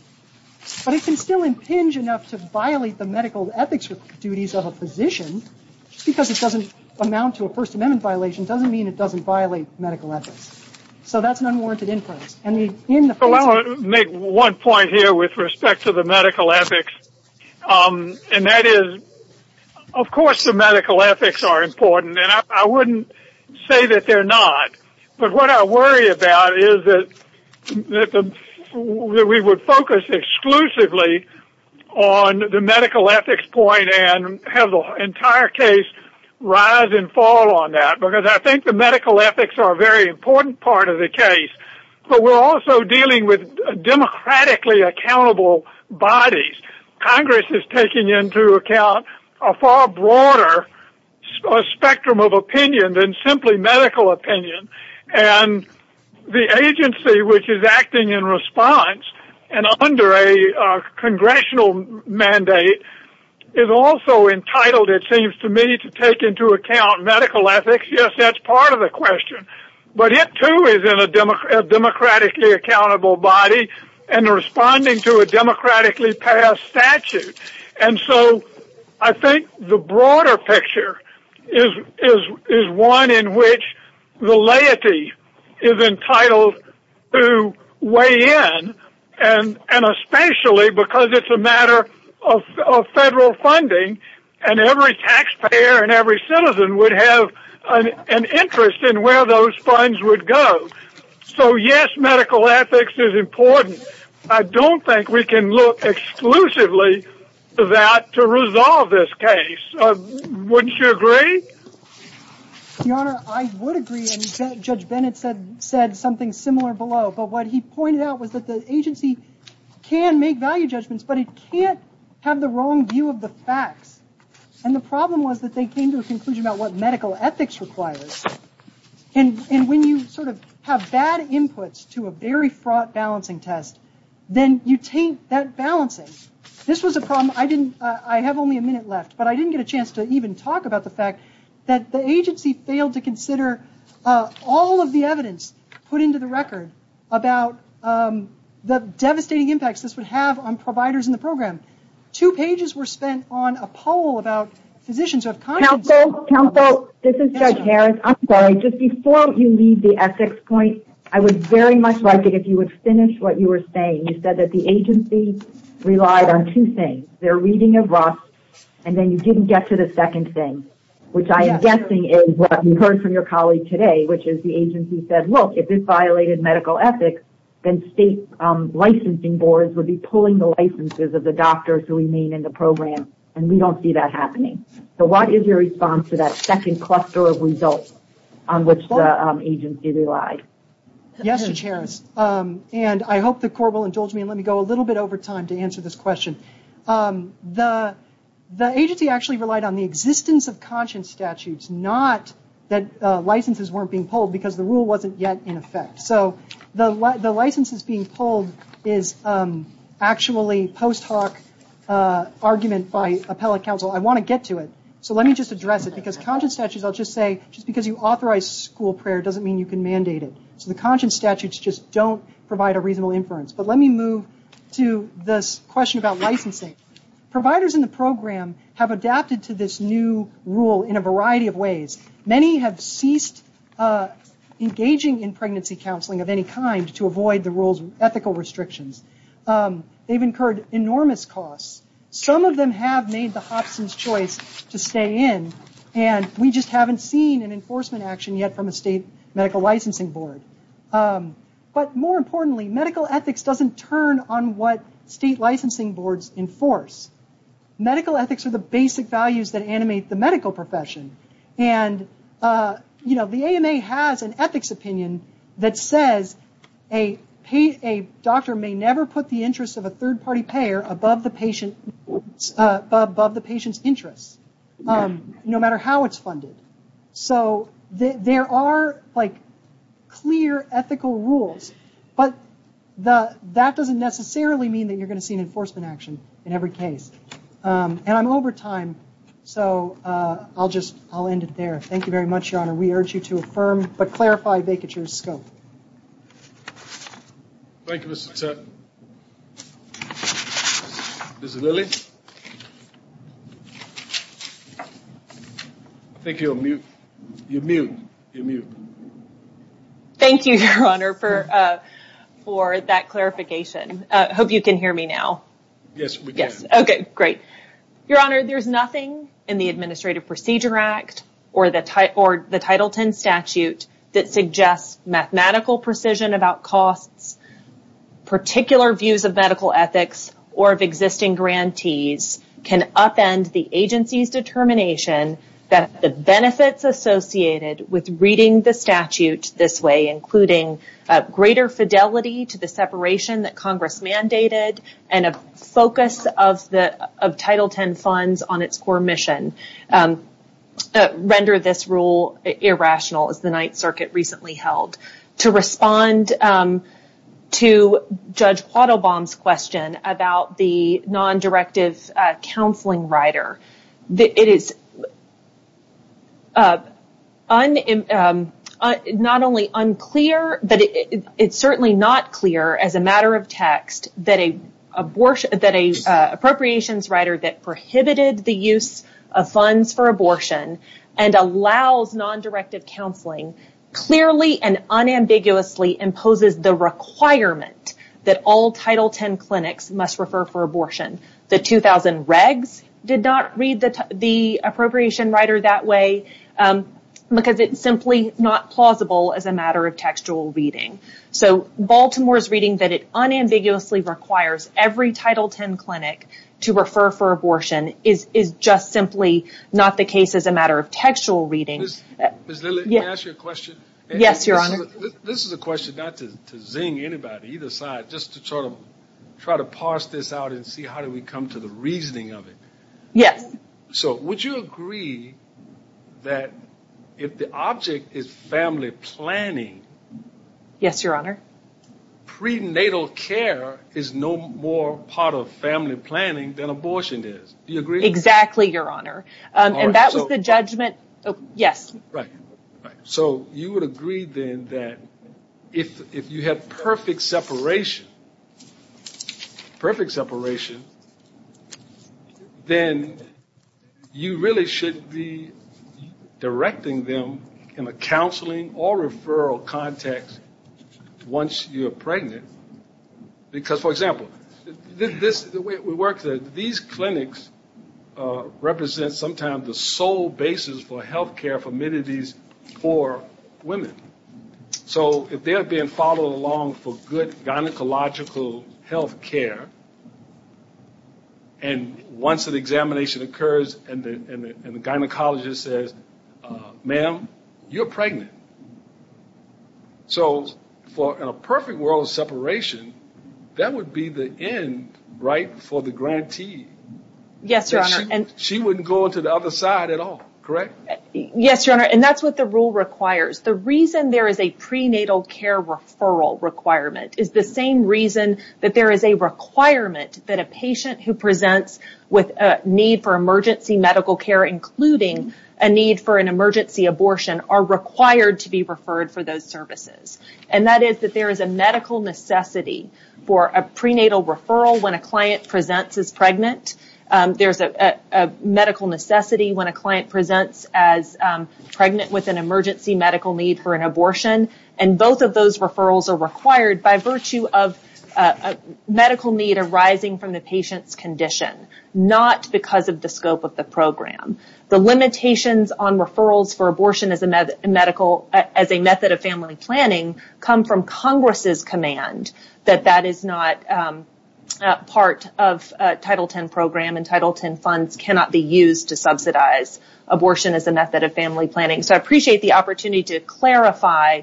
But it can still impinge enough to violate the medical ethics duties of a physician just because it doesn't amount to a First Amendment violation doesn't mean it doesn't violate medical ethics. So that's an unwarranted influence. I want to make one point here with respect to the medical ethics. And that is, of course, the medical ethics are important. And I wouldn't say that they're not. But what I worry about is that we would focus exclusively on the medical ethics point and have the entire case rise and fall on that. Because I think the medical ethics are a very important part of the case. But we're also dealing with democratically accountable bodies. Congress is taking into account a far broader spectrum of opinion than simply medical opinion. And the agency which is acting in response and under a congressional mandate is also entitled, it seems to me, to take into account medical ethics. Yes, that's part of the question. But it too is in a democratically accountable body and responding to a democratically passed statute. And so I think the broader picture is one in which the laity is entitled to weigh in, and especially because it's a matter of federal funding and every taxpayer and every citizen would have an interest in where those funds would go. So yes, medical ethics is important. I don't think we can look exclusively at that to resolve this case. Wouldn't you agree? Your Honor, I would agree. And Judge Bennett said something similar below. But what he pointed out was that the agency can make value judgments, but it can't have the wrong view of the facts. And the problem was that they came to a conclusion about what medical ethics requires. And when you sort of have bad inputs to a very fraught balancing test, then you taint that balancing. This was a problem I didn't, I have only a minute left, but I didn't get a chance to even talk about the fact that the agency failed to consider all of the evidence put into the record about the devastating impacts this would have on providers in the program. Two pages were spent on a poll about positions of confidence. Counsel, counsel, this is Judge Harris. I'm sorry, just before you leave the ethics point, I would very much like it if you would finish what you were saying. You said that the agency relied on two things. Their reading of Ross, and then you didn't get to the second thing, which I am guessing is what you heard from your colleague today, which is the agency said, look, if this violated medical ethics, then state licensing boards would be pulling the licenses of the doctors who remain in the program, and we don't see that happening. So what is your response to that second cluster of results on which the agency relied? Yes, Judge Harris, and I hope the Corps will indulge me and let me go a little bit over time to answer this question. The agency actually relied on the existence of conscience statutes, not that licenses weren't being pulled because the rule wasn't yet in effect. So the licenses being pulled is actually post hoc argument by appellate counsel. I want to get to it, so let me just address it, because conscience statutes, I'll just say, just because you authorize school prayer doesn't mean you can mandate it. So the conscience statutes just don't provide a reasonable inference. I don't want to get into the details, but let me move to this question about licensing. Providers in the program have adapted to this new rule in a variety of ways. Many have ceased engaging in pregnancy counseling of any kind to avoid the rule's ethical restrictions. They've incurred enormous costs. Some of them have made the hotsense choice to stay in, and we just haven't seen an enforcement action yet from a state medical licensing board. But more importantly, medical ethics doesn't turn on what state licensing boards enforce. Medical ethics are the basic values that animate the medical profession, and the AMA has an ethics opinion that says a doctor may never put the interest of a third-party payer above the patient's interests, no matter how it's funded. So there are, like, clear ethical rules, but that doesn't necessarily mean that you're going to see an enforcement action in every case. And I'm over time, so I'll just end it there. Thank you very much, Your Honor. We urge you to affirm but clarify Baker's scope. Thank you, Mr. Chairman. Ms. Lilley? I think you're on mute. You're mute. You're mute. Thank you, Your Honor, for that clarification. I hope you can hear me now. Yes, we can. Okay, great. Your Honor, there's nothing in the Administrative Procedure Act or the Title X statute that suggests mathematical precision about costs, particular views of medical ethics, or of existing grantees can upend the agency's determination that the benefits associated with reading the statute this way, including greater fidelity to the separation that Congress mandated and a focus of Title X funds on its core mission, render this rule irrational, as the Ninth Circuit recently held. I'm going to pause for a moment to respond to Judge Quattlebaum's question about the non-directive counseling rider. It is not only unclear, but it's certainly not clear as a matter of text that an appropriations rider that prohibited the use of funds for abortion and allows non-directive counseling clearly and unambiguously imposes the requirement that all Title X clinics must refer for abortion. The 2000 regs did not read the appropriation rider that way because it's simply not plausible as a matter of textual reading. So Baltimore's reading that it unambiguously requires every Title X clinic to refer for abortion is just simply not the case as a matter of textual reading. Ms. Lilly, can I ask you a question? Yes, Your Honor. This is a question not to zing anybody either side, just to try to parse this out and see how do we come to the reasoning of it. Yes. Would you agree that if the object is family planning, prenatal care is no more part of family planning than abortion is? Do you agree? Exactly, Your Honor. And that was the judgment. Yes. So you would agree then that if you have perfect separation, perfect separation, then you really should be directing them in a counseling or referral context once you're pregnant because, for example, the way we work, these clinics represent sometimes the sole basis for health care for many of these poor women. So if they're being followed along for good gynecological health care and once an examination occurs and the gynecologist says, ma'am, you're pregnant. So for a perfect world of separation, that would be the end, right, for the grantee. Yes, Your Honor. She wouldn't go to the other side at all, correct? Yes, Your Honor. And that's what the rule requires. The reason there is a prenatal care referral requirement is the same reason that there is a requirement that a patient who presents with a need for emergency medical care, including a need for an emergency abortion, are required to be referred for those services. And that is that there is a medical necessity for a prenatal referral when a client presents as pregnant with an emergency medical need for an abortion. And both of those referrals are required by virtue of medical need arising from the patient's condition, not because of the scope of the program. The limitations on referrals for abortion as a method of family planning come from Congress's command that that is not part of Title X program and Title X funds cannot be used to subsidize abortion as a method of family planning. So I appreciate the opportunity to clarify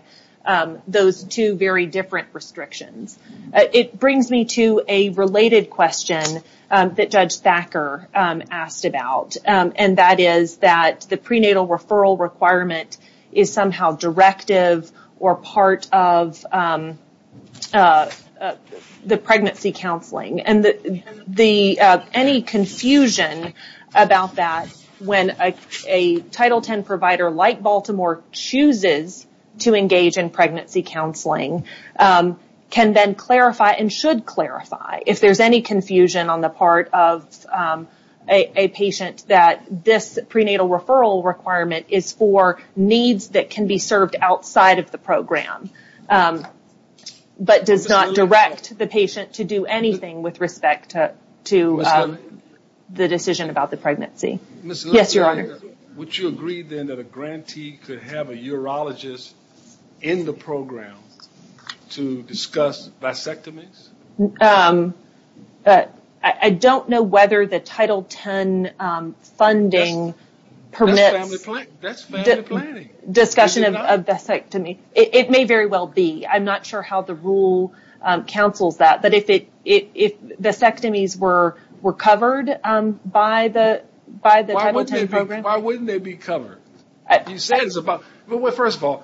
those two very different restrictions. It brings me to a related question that Judge Backer asked about, and that is that the prenatal referral requirement is somehow directive or part of the pregnancy counseling. And any confusion about that when a Title X provider like Baltimore chooses to engage in pregnancy counseling can then clarify and should clarify if there is any confusion on the part of a patient that this prenatal referral requirement is for needs that can be served outside of the program, but does not direct the patient to do anything with respect to the decision about the pregnancy. Yes, Your Honor. Would you agree then that a grantee could have a urologist in the program to discuss disectomy? I don't know whether the Title X funding permits discussion of disectomy. It may very well be. I'm not sure how the rule counsels that. But if the disectomies were covered by the Title X program. Why wouldn't they be covered? First of all,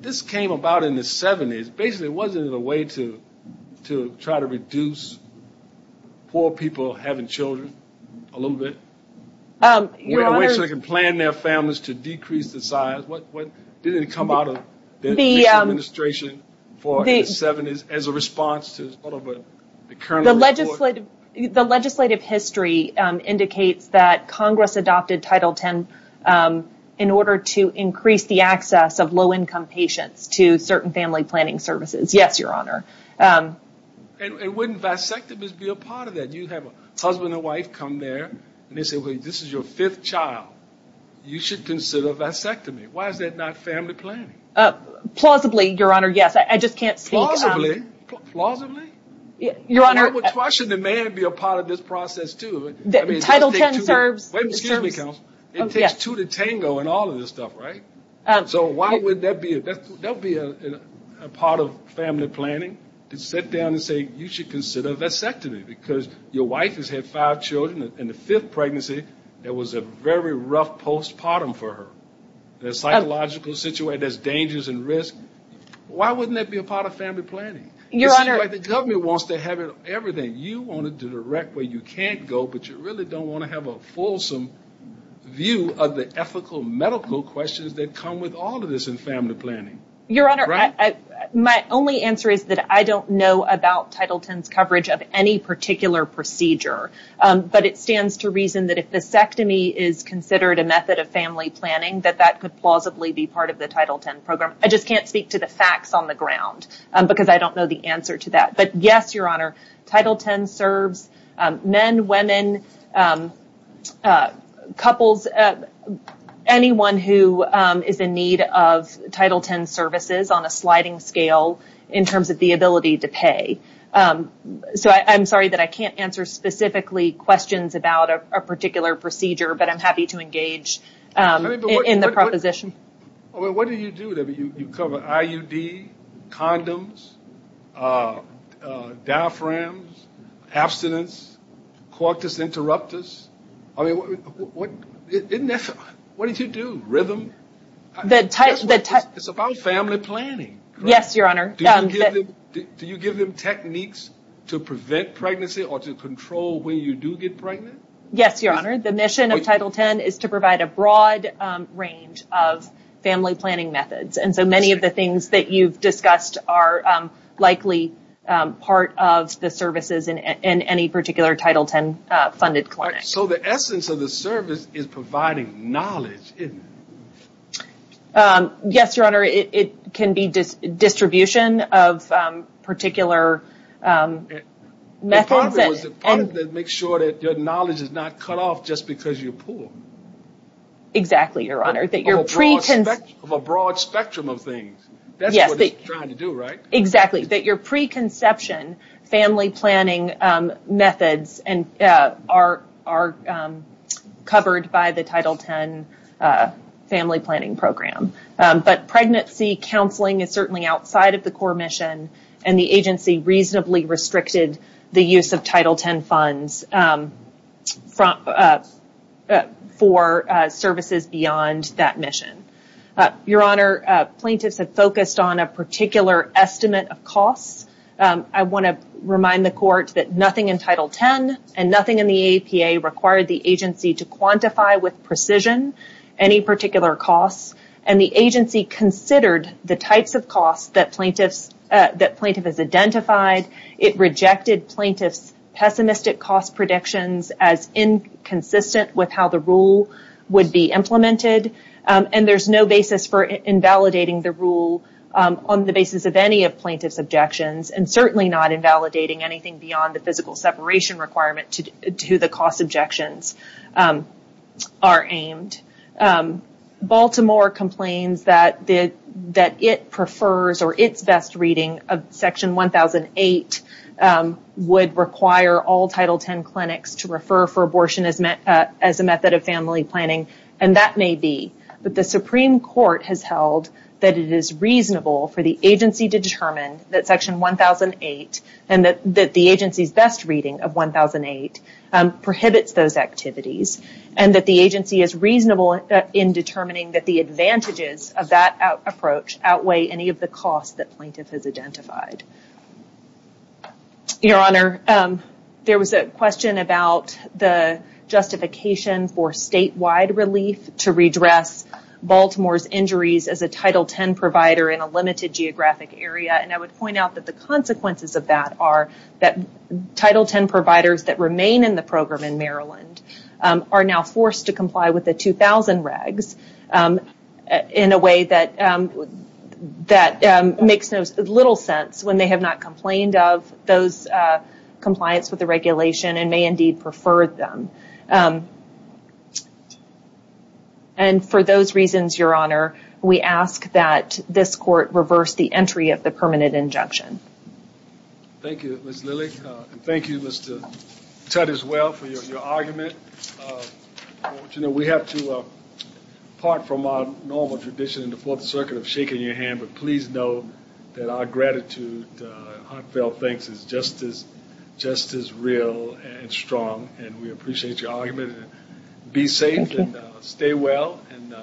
this came about in the 70s. Basically, wasn't it a way to try to reduce poor people having children a little bit? So they can plan their families to decrease the size. Didn't it come out of the administration for the 70s as a response to a little bit? The legislative history indicates that Congress adopted Title X in order to increase the access of low-income patients to certain family planning services. Yes, Your Honor. And wouldn't disectomy be a part of that? You have a husband and wife come there and they say, wait, this is your fifth child. You should consider disectomy. Why is that not family planning? Plausibly, Your Honor. Yes. I just can't think. Plausibly? Your Honor. Why shouldn't the man be a part of this process, too? Title X serves. Excuse me, counsel. It takes two to tango and all of this stuff, right? So why would that be a part of family planning to sit down and say you should consider disectomy? Because your wife has had five children in the fifth pregnancy. It was a very rough postpartum for her. The psychological situation, there's dangers and risks. Why wouldn't that be a part of family planning? Your Honor. The government wants to have everything. You want to direct where you can't go, but you really don't want to have a fulsome view of the ethical medical questions that come with all of this in family planning. Your Honor, my only answer is that I don't know about Title X coverage of any particular procedure, but it stands to reason that if disectomy is considered a part of family planning, that that could plausibly be part of the Title X program. I just can't speak to the facts on the ground because I don't know the answer to that. But, yes, Your Honor, Title X serves men, women, couples, anyone who is in need of Title X services on a sliding scale in terms of the ability to pay. So I'm sorry that I can't answer specifically questions about a particular procedure, but I'm happy to engage in the proposition. What do you do? You cover IUD, condoms, diaphragms, abstinence, cortis interruptus. What did you do? Rhythm? It's about family planning. Yes, Your Honor. Do you give them techniques to prevent pregnancy or to control when you do get pregnant? Yes, Your Honor. The mission of Title X is to provide a broad range of family planning methods. And so many of the things that you've discussed are likely part of the services in any particular Title X funded clinic. So the essence of the service is providing knowledge, isn't it? Yes, Your Honor. It can be distribution of particular methods. Part of it is to make sure that the knowledge is not cut off just because you're poor. Exactly, Your Honor. Of a broad spectrum of things. That's what you're trying to do, right? Exactly, that your preconception family planning methods are covered by the Title X family planning program. But pregnancy counseling is certainly outside of the core mission, and the use of Title X funds for services beyond that mission. Your Honor, plaintiffs have focused on a particular estimate of cost. I want to remind the court that nothing in Title X and nothing in the APA required the agency to quantify with precision any particular cost. And the agency considered the types of costs that plaintiffs identified. It rejected plaintiffs' pessimistic cost predictions as inconsistent with how the rule would be implemented. And there's no basis for invalidating the rule on the basis of any of plaintiffs' objections, and certainly not invalidating anything beyond the physical separation requirement to the cost objections are aimed. Baltimore complains that it prefers or it's best reading of Section 1008 would require all Title X clinics to refer for abortion as a method of family planning, and that may be. But the Supreme Court has held that it is reasonable for the agency to determine that Section 1008 and that the agency's best reading of 1008 prohibits those activities, and that the agency is reasonable in determining that the advantages of that approach outweigh any of the costs that plaintiffs have identified. Your Honor, there was a question about the justification for statewide release to redress Baltimore's injuries as a Title X provider in a limited geographic area, and I would point out that the consequences of that are that Title X providers that remain in the program in Maryland are now when they have not complained of those compliance with the regulation and may indeed prefer them. And for those reasons, Your Honor, we ask that this court reverse the entry of the permanent injunction. Thank you, Ms. Millick, and thank you, Mr. Tutte, as well, for your argument. You know, we have to, apart from our normal tradition in the Fourth Circuit of shaking your hand, but please know that our gratitude and heartfelt thanks is just as real and strong, and we appreciate your argument. Be safe and stay well, and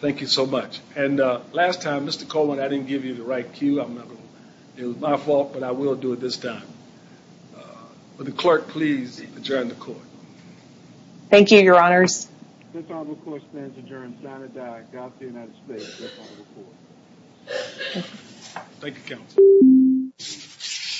thank you so much. And last time, Mr. Coleman, I didn't give you the right cue. It was my fault, but I will do it this time. Will the clerk please adjourn the court? Thank you, Your Honors. The court stands adjourned.